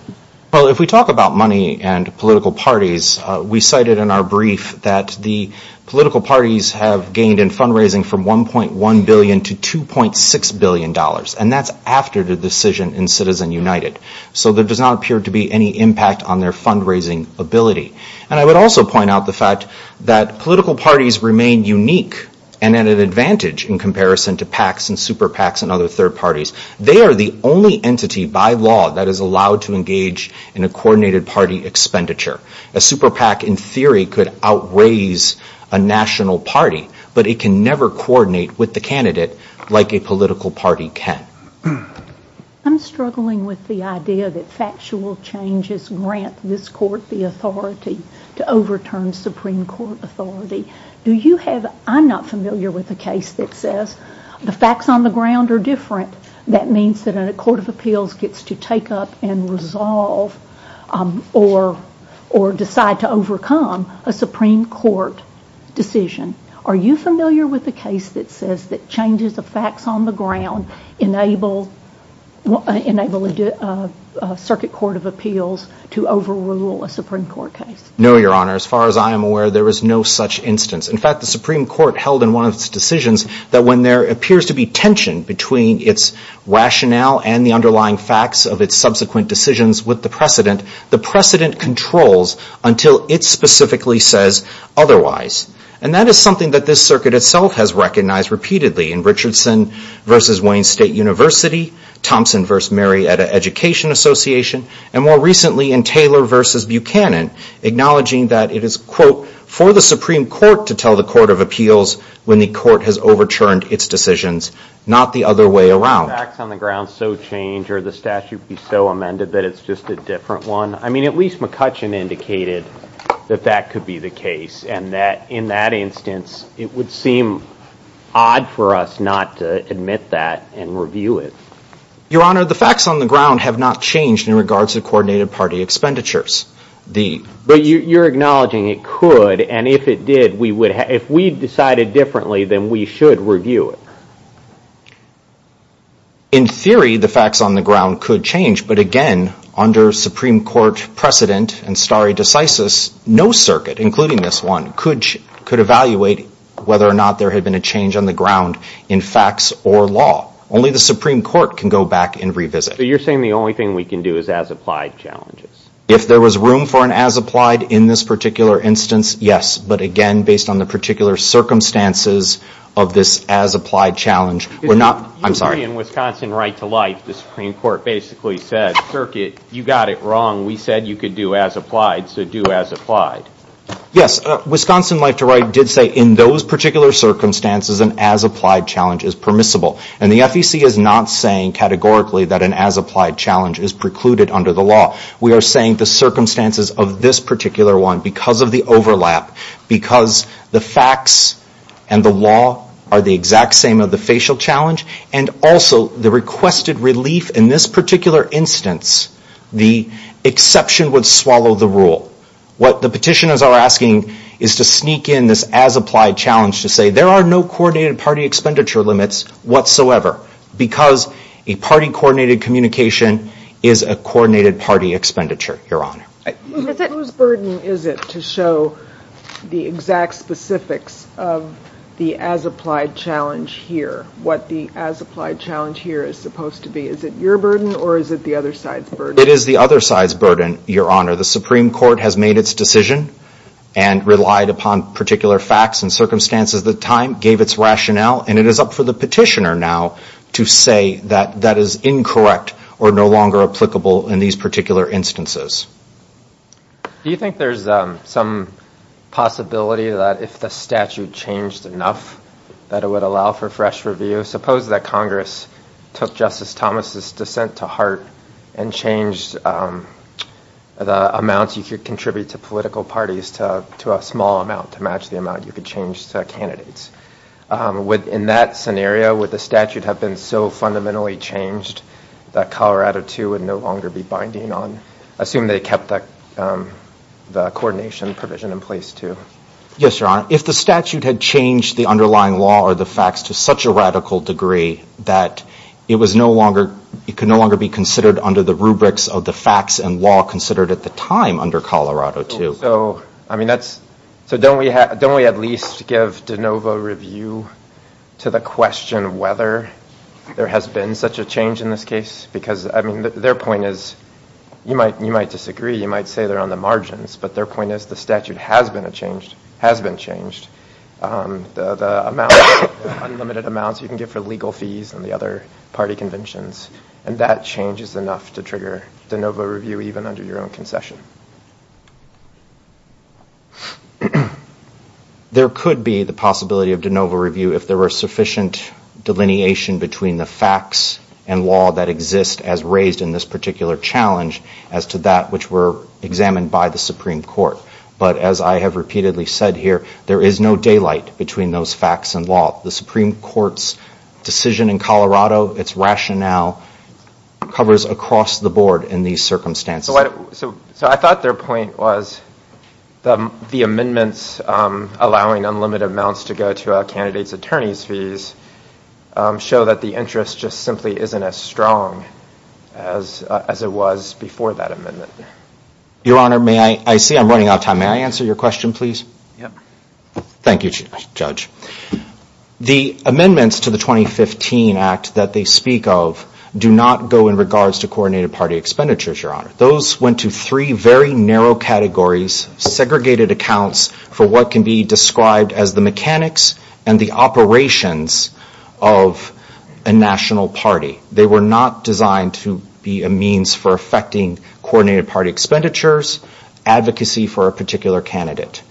Well, if we talk about money and political parties, we cited in our brief that the political parties have gained in fundraising from $1.1 billion to $2.6 billion and that's after the decision in Citizen United. So there does not appear to be any impact on their fundraising ability. And I would also point out the fact that political parties remain unique and at an advantage in comparison to PACs and super PACs and other third parties. They are the only entity by law that is allowed to engage in a coordinated party expenditure. A super PAC in theory could out-raise a national party, but it can never coordinate with the candidate like a political party can. I'm struggling with the idea that factual changes grant this court the authority to overturn Supreme Court authority. Do you have, I'm not familiar with a case that says the facts on the ground are different. That means that a court of appeals gets to take up and resolve or decide to overcome a Supreme Court decision. Are you familiar with a case that says that changes of facts on the ground enable a circuit court of appeals to overrule a Supreme Court case? No, Your Honor. As far as I am aware, there is no such instance. In fact, the Supreme Court of Appeals, there seems to be tension between its rationale and the underlying facts of its subsequent decisions with the precedent. The precedent controls until it specifically says otherwise. And that is something that this circuit itself has recognized repeatedly in Richardson v. Wayne State University, Thompson v. Marietta Education Association, and more recently in Taylor v. Buchanan, acknowledging that it is, quote, for the Supreme Court to tell the court of appeals when the court has overturned its decisions, not the other way around. The facts on the ground so change or the statute be so amended that it's just a different one. I mean, at least McCutcheon indicated that that could be the case and that in that instance it would seem odd for us not to admit that and review it. Your Honor, the facts on the ground have not changed in regards to coordinated party expenditures. But you're acknowledging it could, and if it did, if we decided differently, then we should review it. In theory, the facts on the ground could change. But again, under Supreme Court precedent and stare decisis, no circuit, including this one, could evaluate whether or not there had been a change on the ground in facts or law. Only the Supreme Court can go back and revisit. You're saying the only thing we can do is ask applied challenges. If there was room for an as-applied in this particular instance, yes. But again, based on the particular circumstances of this as-applied challenge, we're not, I'm sorry. You agree in Wisconsin right to life, the Supreme Court basically said, circuit, you got it wrong. We said you could do as-applied, so do as-applied. Yes, Wisconsin right to life did say in those particular circumstances an as-applied challenge is permissible. And the FEC is not saying categorically that an as-applied challenge is precluded under the law. We are saying the circumstances of this particular one, because of the overlap, because the facts and the law are the exact same of the facial challenge, and also the requested relief in this particular instance, the exception would swallow the rule. What the petitioners are asking is to sneak in this as-applied challenge to say there are no coordinated party expenditure limits whatsoever, because a party-coordinated communication is a coordinated party expenditure, Your Honor. Whose burden is it to show the exact specifics of the as-applied challenge here? What the as-applied challenge here is supposed to be? Is it your burden or is it the other side's It is the other side's burden, Your Honor. The Supreme Court has made its decision and relied upon particular facts and circumstances at the time, gave its rationale, and it is up for the petitioner now to say that that is incorrect or no longer applicable in these particular instances. Do you think there's some possibility that if the statute changed enough that it would allow for fresh review? Suppose that Congress took Justice Thomas' dissent to heart and changed the amounts you could contribute to political parties to a small amount to match the amount you could change to candidates. In that scenario, would the statute have been so fundamentally changed that Colorado, too, would no longer be binding on? Assume they kept the coordination provision in place, too. Yes, Your Honor. If the statute had changed the underlying law or the facts to such a of the facts and law considered at the time under Colorado, too. So, I mean, that's, so don't we at least give de novo review to the question whether there has been such a change in this case? Because, I mean, their point is, you might disagree, you might say they're on the margins, but their point is the statute has been a change, has been changed. The amount, unlimited amounts you can give for legal fees and the other de novo review even under your own concession. There could be the possibility of de novo review if there were sufficient delineation between the facts and law that exist as raised in this particular challenge as to that which were examined by the Supreme Court. But as I have repeatedly said here, there is no daylight between those facts and law. The Supreme Court's decision in Colorado, its rationale, covers across the board in these circumstances. So I thought their point was the amendments allowing unlimited amounts to go to a candidate's attorney's fees show that the interest just simply isn't as strong as it was before that Your Honor, may I, I see I'm running out of time. May I answer your question, please? Thank you, Judge. The amendments to the 2015 Act that they speak of do not go in regards to coordinated party expenditures, Your Honor. Those went to three very narrow categories, segregated accounts for what can be described as the mechanics and the operations of a national party. They were not designed to be a means for effecting coordinated party expenditures, advocacy for a particular candidate.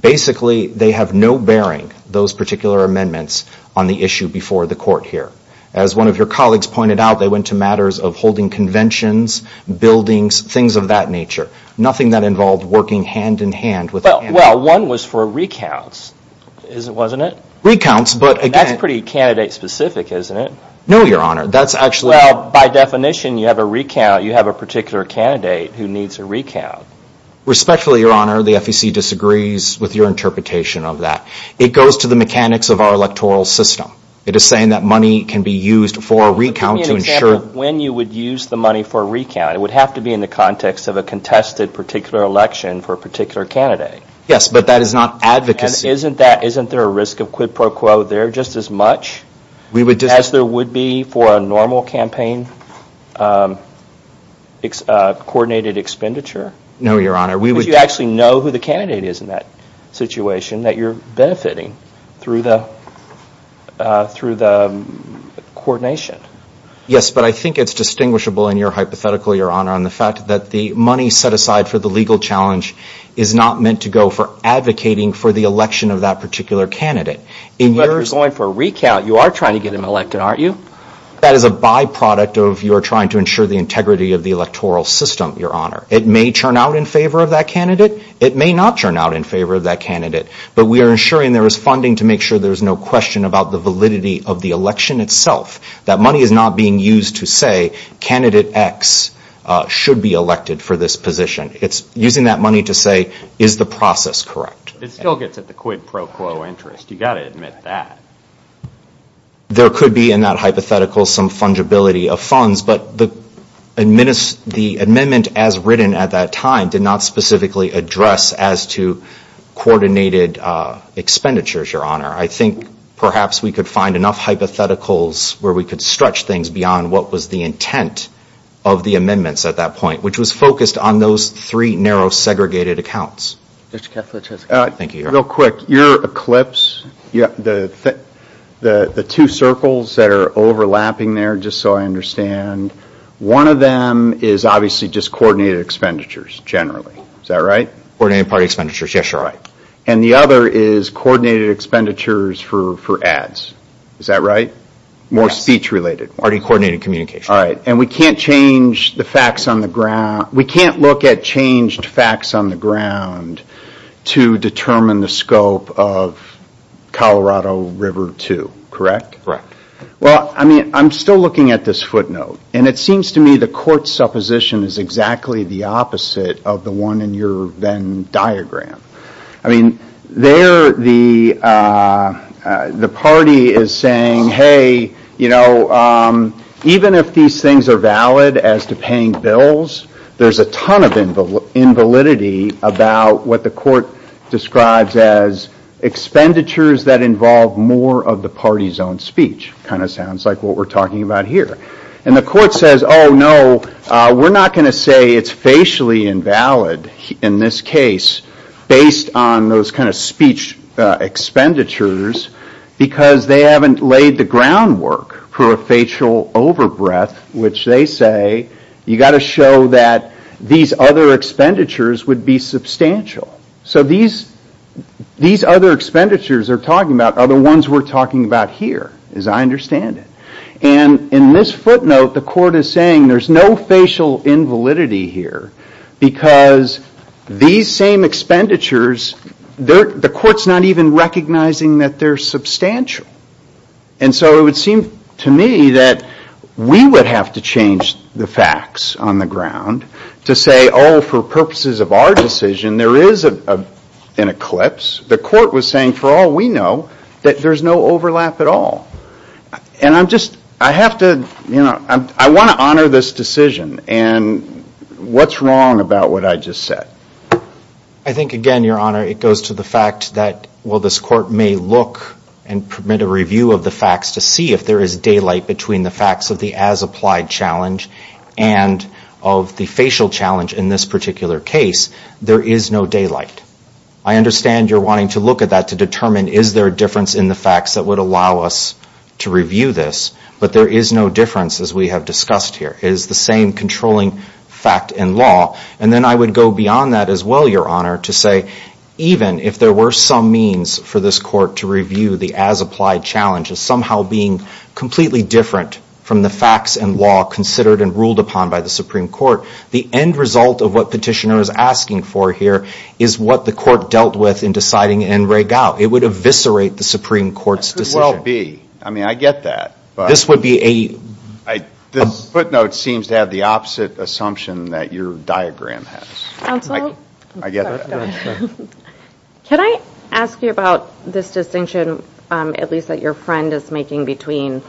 Basically, they have no bearing, those particular amendments, on the issue before the court here. As one of your colleagues pointed out, they went to matters of holding conventions, buildings, things of that nature. Nothing that involved working hand-in-hand with Well, one was for recounts, wasn't it? Recounts, but again That's pretty candidate-specific, isn't it? No, Your Honor, that's actually Well, by definition, you have a particular candidate who needs a recount. Respectfully, Your Honor, the FEC disagrees with your interpretation of that. It goes to the mechanics of our electoral system. It is saying that money can be used for a recount to ensure When you would use the money for a recount, it would have to be in the context of a contested particular election for a particular candidate. Yes, but that is not advocacy And isn't there a risk of quid pro quo there just as much as there would be for a normal campaign coordinated expenditure? No, Your Honor, we would actually know who the candidate is in that situation that you're benefiting through the coordination. Yes, but I think it's distinguishable in your hypothetical, Your Honor, on the fact that the money set aside for the legal challenge is not meant to go for advocating for the election of that particular candidate. But if you're going for a recount, you are trying to get him elected, aren't you? That is a byproduct of your trying to ensure the integrity of the electoral system, Your Honor. It may turn out in favor of that candidate. It may not turn out in favor of that candidate. But we are ensuring there is funding to make sure there is no question about the validity of the election itself. That money is not being used to say, candidate X should be elected for this position. It's using that money to say, is the process correct? It still gets at the quid pro quo interest. You've got to admit that. There could be in that hypothetical some fungibility of funds, but the amendment as written at that time did not specifically address as to coordinated expenditures, Your Honor. I think perhaps we could find enough hypotheticals where we could stretch things beyond what was the intent of the amendments at that point, which was focused on those three narrow segregated accounts. Real quick, your eclipse, the two circles that are overlapping there, just so I understand, one of them is obviously just coordinated expenditures generally. Is that right? Coordinated party expenditures, yes, Your Honor. And the other is coordinated expenditures for ads. Is that right? More speech related. Already coordinated communication. And we can't change the facts on the ground. We can't look at changed facts on the ground to determine the scope of Colorado River 2, correct? Correct. I'm still looking at this footnote, and it seems to me the court's supposition is exactly the opposite of the one in your Venn diagram. The party is saying, hey, even if these things are valid as to paying bills, there's a ton of invalidity about what the court describes as expenditures that involve more of the party's own speech, kind of sounds like what we're talking about here. And the court says, oh no, we're not going to say it's facially invalid in this case based on those kind of speech expenditures because they haven't laid the groundwork for a facial overbreath, which they say you've got to show that these other expenditures would be substantial. So these other expenditures they're talking about are the ones we're talking about here, as I understand it. And in this footnote, the court is saying there's no facial invalidity here because these same expenditures, the court's not even recognizing that they're substantial. And so it would seem to me that we would have to change the facts on the ground to say, oh, for purposes of our decision, there is an eclipse. The court was saying, for all we know, that there's no overlap at all. And I'm just, I have to, you know, I want to honor this decision. And what's wrong about what I just said? I think, again, Your Honor, it goes to the fact that while this court may look and permit a review of the facts to see if there is daylight between the facts of the as-applied challenge and of the facial challenge in this particular case, there is no daylight. I understand you're wanting to look at that to determine, is there a difference in the facts that would allow us to review this? But there is no difference, as we have discussed here. It is the same controlling fact in law. And then I would go beyond that as well, Your Honor, to say even if there were some means for this court to review the as-applied challenge as somehow being completely different from the facts and law considered and ruled upon by the Supreme Court, the end result of what the petitioner is asking for here is what the court dealt with in deciding in Rehgau. It would eviscerate the Supreme Court's decision. Could well be. I mean, I get that. This would be a... This footnote seems to have the opposite assumption that your diagram has. Absolutely. I get that. Can I ask you about this distinction, at least that your friend is making, between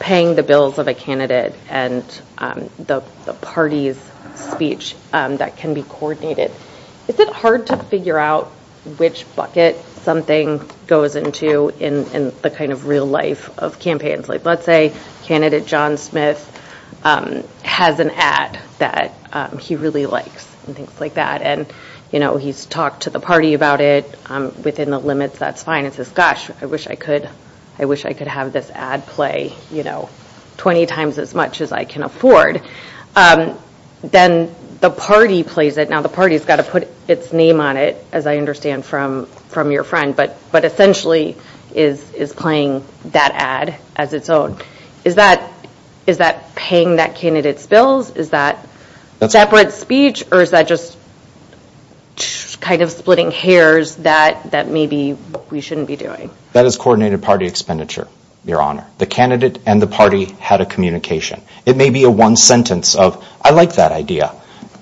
paying the bills of a candidate and the party's speech that can be coordinated. Is it hard to figure out which bucket something goes into in the kind of real life of campaigns? Let's say candidate John Smith has an ad that he really likes and things like that. He's talked to the party about it. Within the limits, that's fine. I wish I could have this ad play 20 times as much as I can afford. Then the party plays it. Now, the party's got to put its name on it, as I understand from your friend, but essentially is playing that ad as its own. Is that paying that candidate's bills? Is that separate speech or is that just kind of splitting hairs that maybe we shouldn't be doing? That is coordinated party expenditure, your honor. The candidate and the party had a communication. It may be a one sentence of, I like that idea,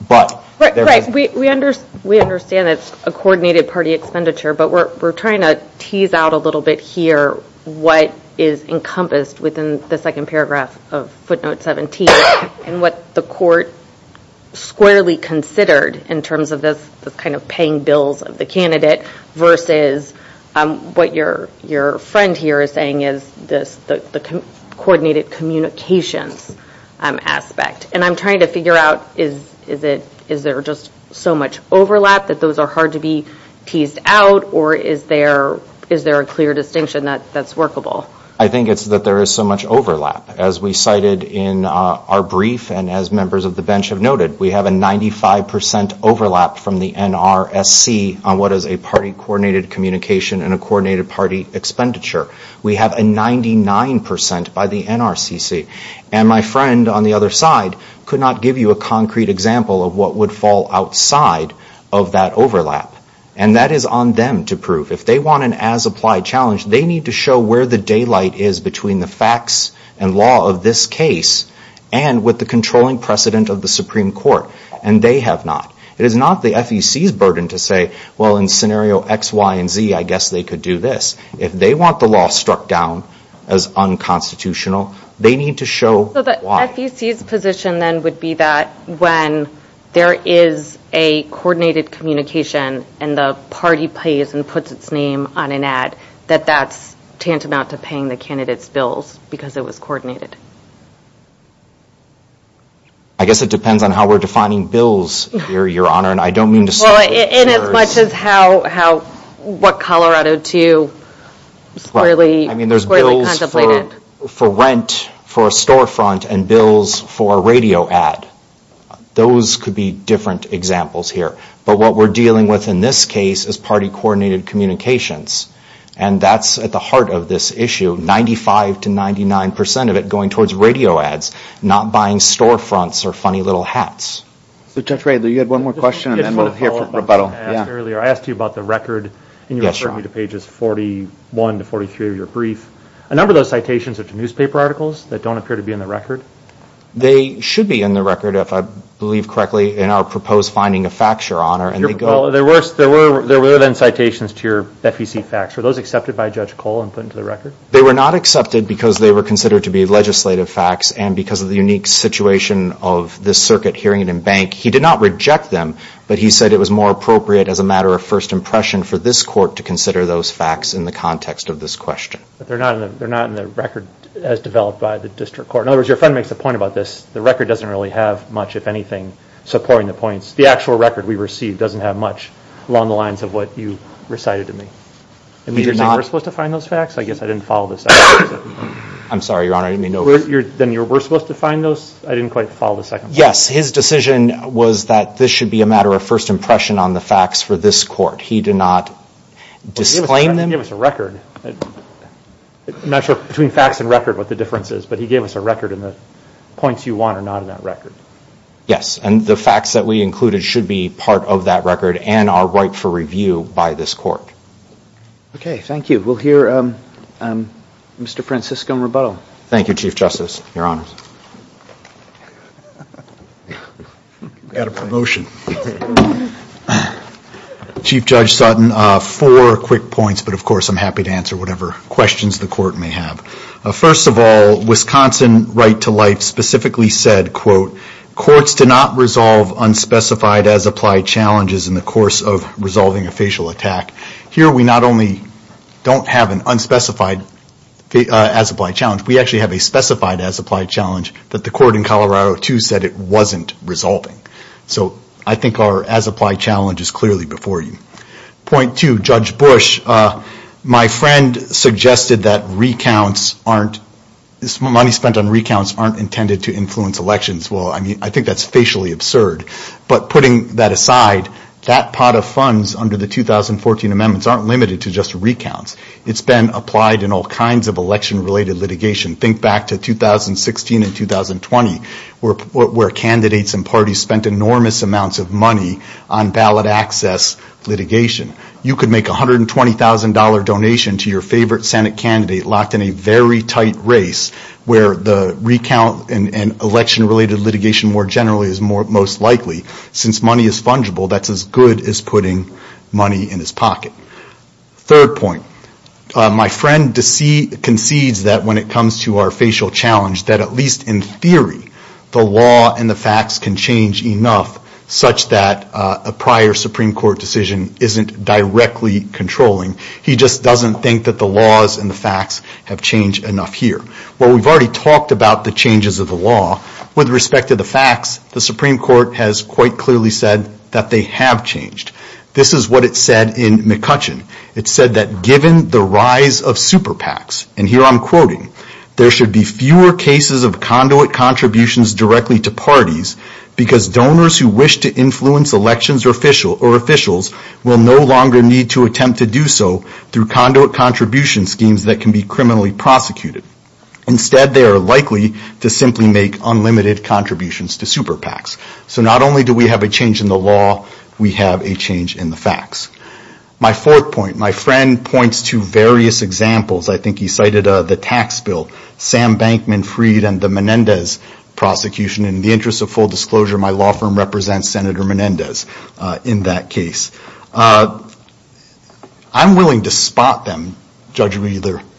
but... We understand it's a coordinated party expenditure, but we're trying to tease out a little bit what is encompassed within the second paragraph of footnote 17 and what the court squarely considered in terms of this kind of paying bills of the candidate versus what your friend here is saying is the coordinated communications aspect. I'm trying to figure out is there just so much overlap that those are hard to be teased out or is there a clear distinction that's workable? I think it's that there is so much overlap. As we cited in our brief and as members of the bench have noted, we have a 95% overlap from the NRSC on what is a party coordinated communication and a coordinated party expenditure. We have a 99% by the NRCC. My friend on the other side could not give you a concrete example of what would fall outside of that overlap. That is on them to prove. If they want an as-applied challenge, they need to show where the daylight is between the facts and law of this case and with the controlling precedent of the Supreme Court. They have not. It is not the FEC's burden to say, in scenario X, Y, and Z, I guess they could do this. If they want the law struck down as unconstitutional, they need to show why. The FEC's position then would be that when there is a coordinated communication and the party pays and puts its name on an ad, that that's tantamount to paying the candidate's bills because it was coordinated. I guess it depends on how we're defining bills here, Your Honor. I don't mean to... In as much as what Colorado II squarely contemplated? For rent, for a storefront, and bills for a radio ad. Those could be different examples here, but what we're dealing with in this case is party-coordinated communications and that's at the heart of this issue, 95 to 99 percent of it going towards radio ads, not buying storefronts or funny little hats. Judge Ray, you had one more question and then we'll hear from Rebuttal. I asked you about the record and you referred me to pages 41 to 43 of your brief. A number of those citations are to newspaper articles that don't appear to be in the record? They should be in the record if I believe correctly in our proposed finding of facts, There were then citations to your FEC facts. Were those accepted by Judge Cole and put into the record? They were not accepted because they were considered to be legislative facts and because of the unique situation of this circuit hearing it in bank, he did not reject them, but he said it was more appropriate as a matter of first impression for this court to consider those facts in the context of this question. They're not in the record as developed by the district court? In other words, your friend makes a point about this. The record doesn't really have much, if anything, supporting the points. The actual record we received doesn't have much along the lines of what you recited to me. You're saying we're supposed to find those facts? I guess I didn't follow the second part of that. I'm sorry, Your Honor. I didn't mean to over... Then you were supposed to find those? I didn't quite follow the second part. Yes, his decision was that this should be a matter of first impression on the facts for this court. He did not disclaim them? He didn't give us a record. I'm not sure between facts and record what the difference is, but he gave us a record and the points you want are not in that record. Yes, and the facts that we included should be part of that record and are ripe for review by this court. Okay, thank you. We'll hear Mr. Francisco in rebuttal. Thank you, Chief Justice. Your Honors. Got a promotion. Chief Judge Sutton, four quick points, but of course I'm happy to answer whatever questions the court may have. First of all, Wisconsin Right to Life specifically said, quote, courts do not resolve unspecified as applied challenges in the course of resolving a facial attack. Here we not only don't have an unspecified as applied challenge, we actually have a specified as applied challenge that the court in Colorado II said it wasn't resolving. So, I think our as applied challenge is clearly before you. Point two, Judge Bush, my friend suggested that money spent on recounts aren't intended to influence elections. Well, I mean, I think that's facially absurd, but putting that aside, that pot of funds under the 2014 amendments aren't limited to just recounts. It's been applied in all kinds of election related litigation. Think back to 2016 and 2020, where candidates and parties spent enormous amounts of money on ballot access litigation. You could make $120,000 donation to your favorite Senate candidate locked in a very tight race where the recount and election related litigation more generally is most likely. Since money is fungible, that's as good as putting money in his pocket. Third point, my friend concedes that when it comes to our facial challenge that at least in theory, the law and the facts can change enough such that a prior Supreme Court decision isn't directly controlling. He just doesn't think that the laws and the facts have changed enough here. Well, we've already talked about the changes of the law. With respect to the facts, the Supreme Court has quite clearly said that they have changed. This is what it said in McCutcheon. It said that given the rise of super PACs, and here I'm quoting, there should be fewer cases of conduit contributions directly to parties because donors who wish to influence elections or officials will no longer need to attempt to do so through conduit contribution schemes that can be criminally prosecuted. Instead, they are likely to simply make unlimited contributions to super PACs. Not only do we have a change in the law, we have a change in the facts. My fourth point, my friend points to various examples. I think he cited the tax bill, Sam Bankman Freed and the Menendez prosecution. In the interest of full disclosure, my law firm represents Senator Menendez in that case. I'm willing to spot them judging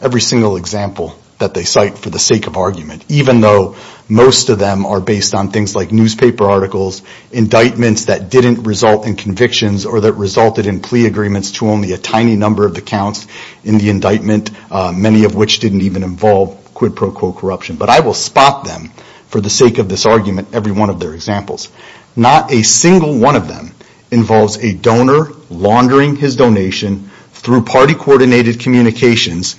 every single example that they cite for the sake of argument even though most of them are based on things like newspaper articles, indictments that didn't result in convictions or that resulted in plea agreements to only a tiny number of the counts in the indictment, many of which didn't even involve quid pro quo corruption. But I will spot them for the sake of this argument every one of their examples. Not a single one of them involves a donor laundering his donation through party-coordinated communications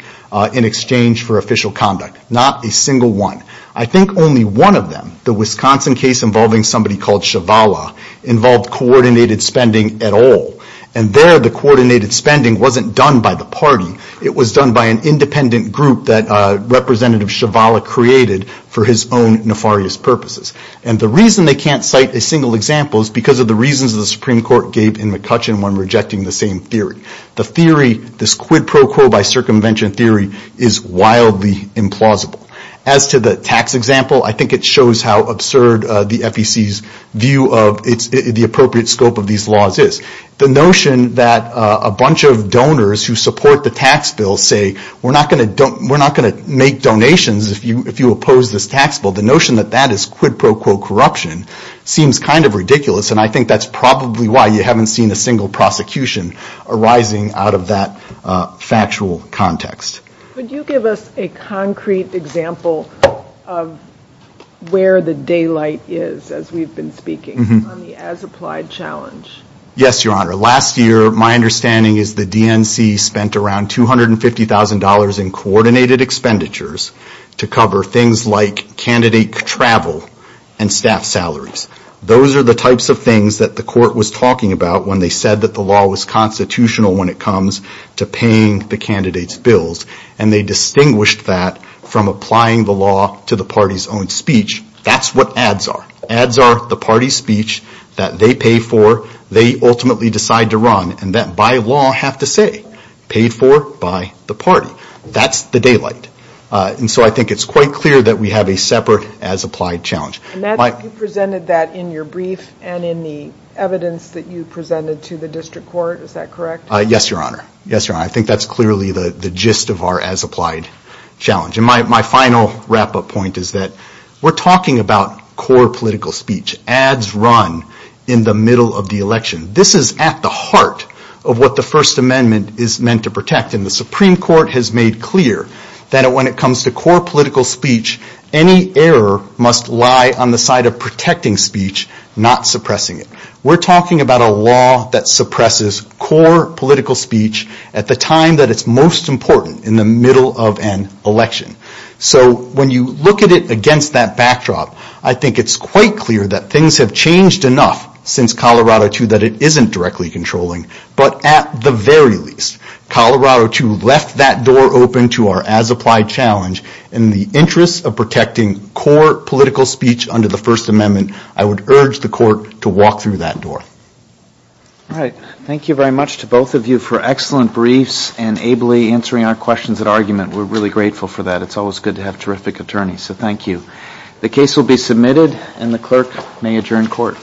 in exchange for official conduct. Not a single one. I think only one of them, the Wisconsin case involving somebody called Shavala, involved coordinated spending at all. And there, the coordinated spending wasn't done by the party. It was done by an independent group that Representative Shavala created for his own nefarious purposes. And the reason they can't cite a single example is because of the reasons the Supreme Court gave in McCutcheon when rejecting the same theory. The theory, this quid pro quo by circumvention theory, is wildly implausible. As to the tax example, I think it shows how absurd the FEC's view of the appropriate scope of these laws is. The notion that a bunch of donors who support the tax bill say we're not going to make donations if you oppose this tax bill, the notion that that is quid pro quo corruption seems kind of ridiculous. I think that's probably why you haven't seen a single prosecution arising out of that factual context. Could you give us a concrete example of where the daylight is as we've been speaking on the as-applied challenge? Yes, Your Honor. Last year, my understanding is the DNC spent around $250,000 in coordinated expenditures to cover things like candidate travel and staff salaries. Those are the types of things that the court was talking about when they said that the law was constitutional when it comes to paying the candidates' bills. They distinguished that from applying the law to the party's own speech. That's what ads are. Ads are the party's speech that they pay for, they ultimately decide to run, and that by law have to say, paid for by the party. That's the daylight. I think it's quite clear that we have a separate as-applied challenge. You presented that in your brief and in the evidence that you presented to the district court, is that correct? Yes, Your Honor. Yes, Your Honor. I think that's clearly the gist of our as-applied challenge. My final wrap-up point is that we're talking about core political speech. Ads run in the middle of the election. This is at the heart of what the First Amendment is meant to protect, and the Supreme Court has made clear that when it comes to core political speech, any error must lie on the side of protecting speech, not suppressing it. We're talking about a law that suppresses core political speech at the time that it's most important, in the middle of an election. When you look at it against that backdrop, I think it's quite clear that things have changed enough since Colorado II that it isn't directly controlling, but at the very least, Colorado II left that door open to our as-applied challenge. In the interest of protecting core political speech under the First Amendment, I would urge the court to walk through that door. Thank you very much to both of you for excellent briefs and ably answering our questions at We're really grateful for that. It's always good to have terrific attorneys, so thank you. The case will be submitted, and the clerk may adjourn court.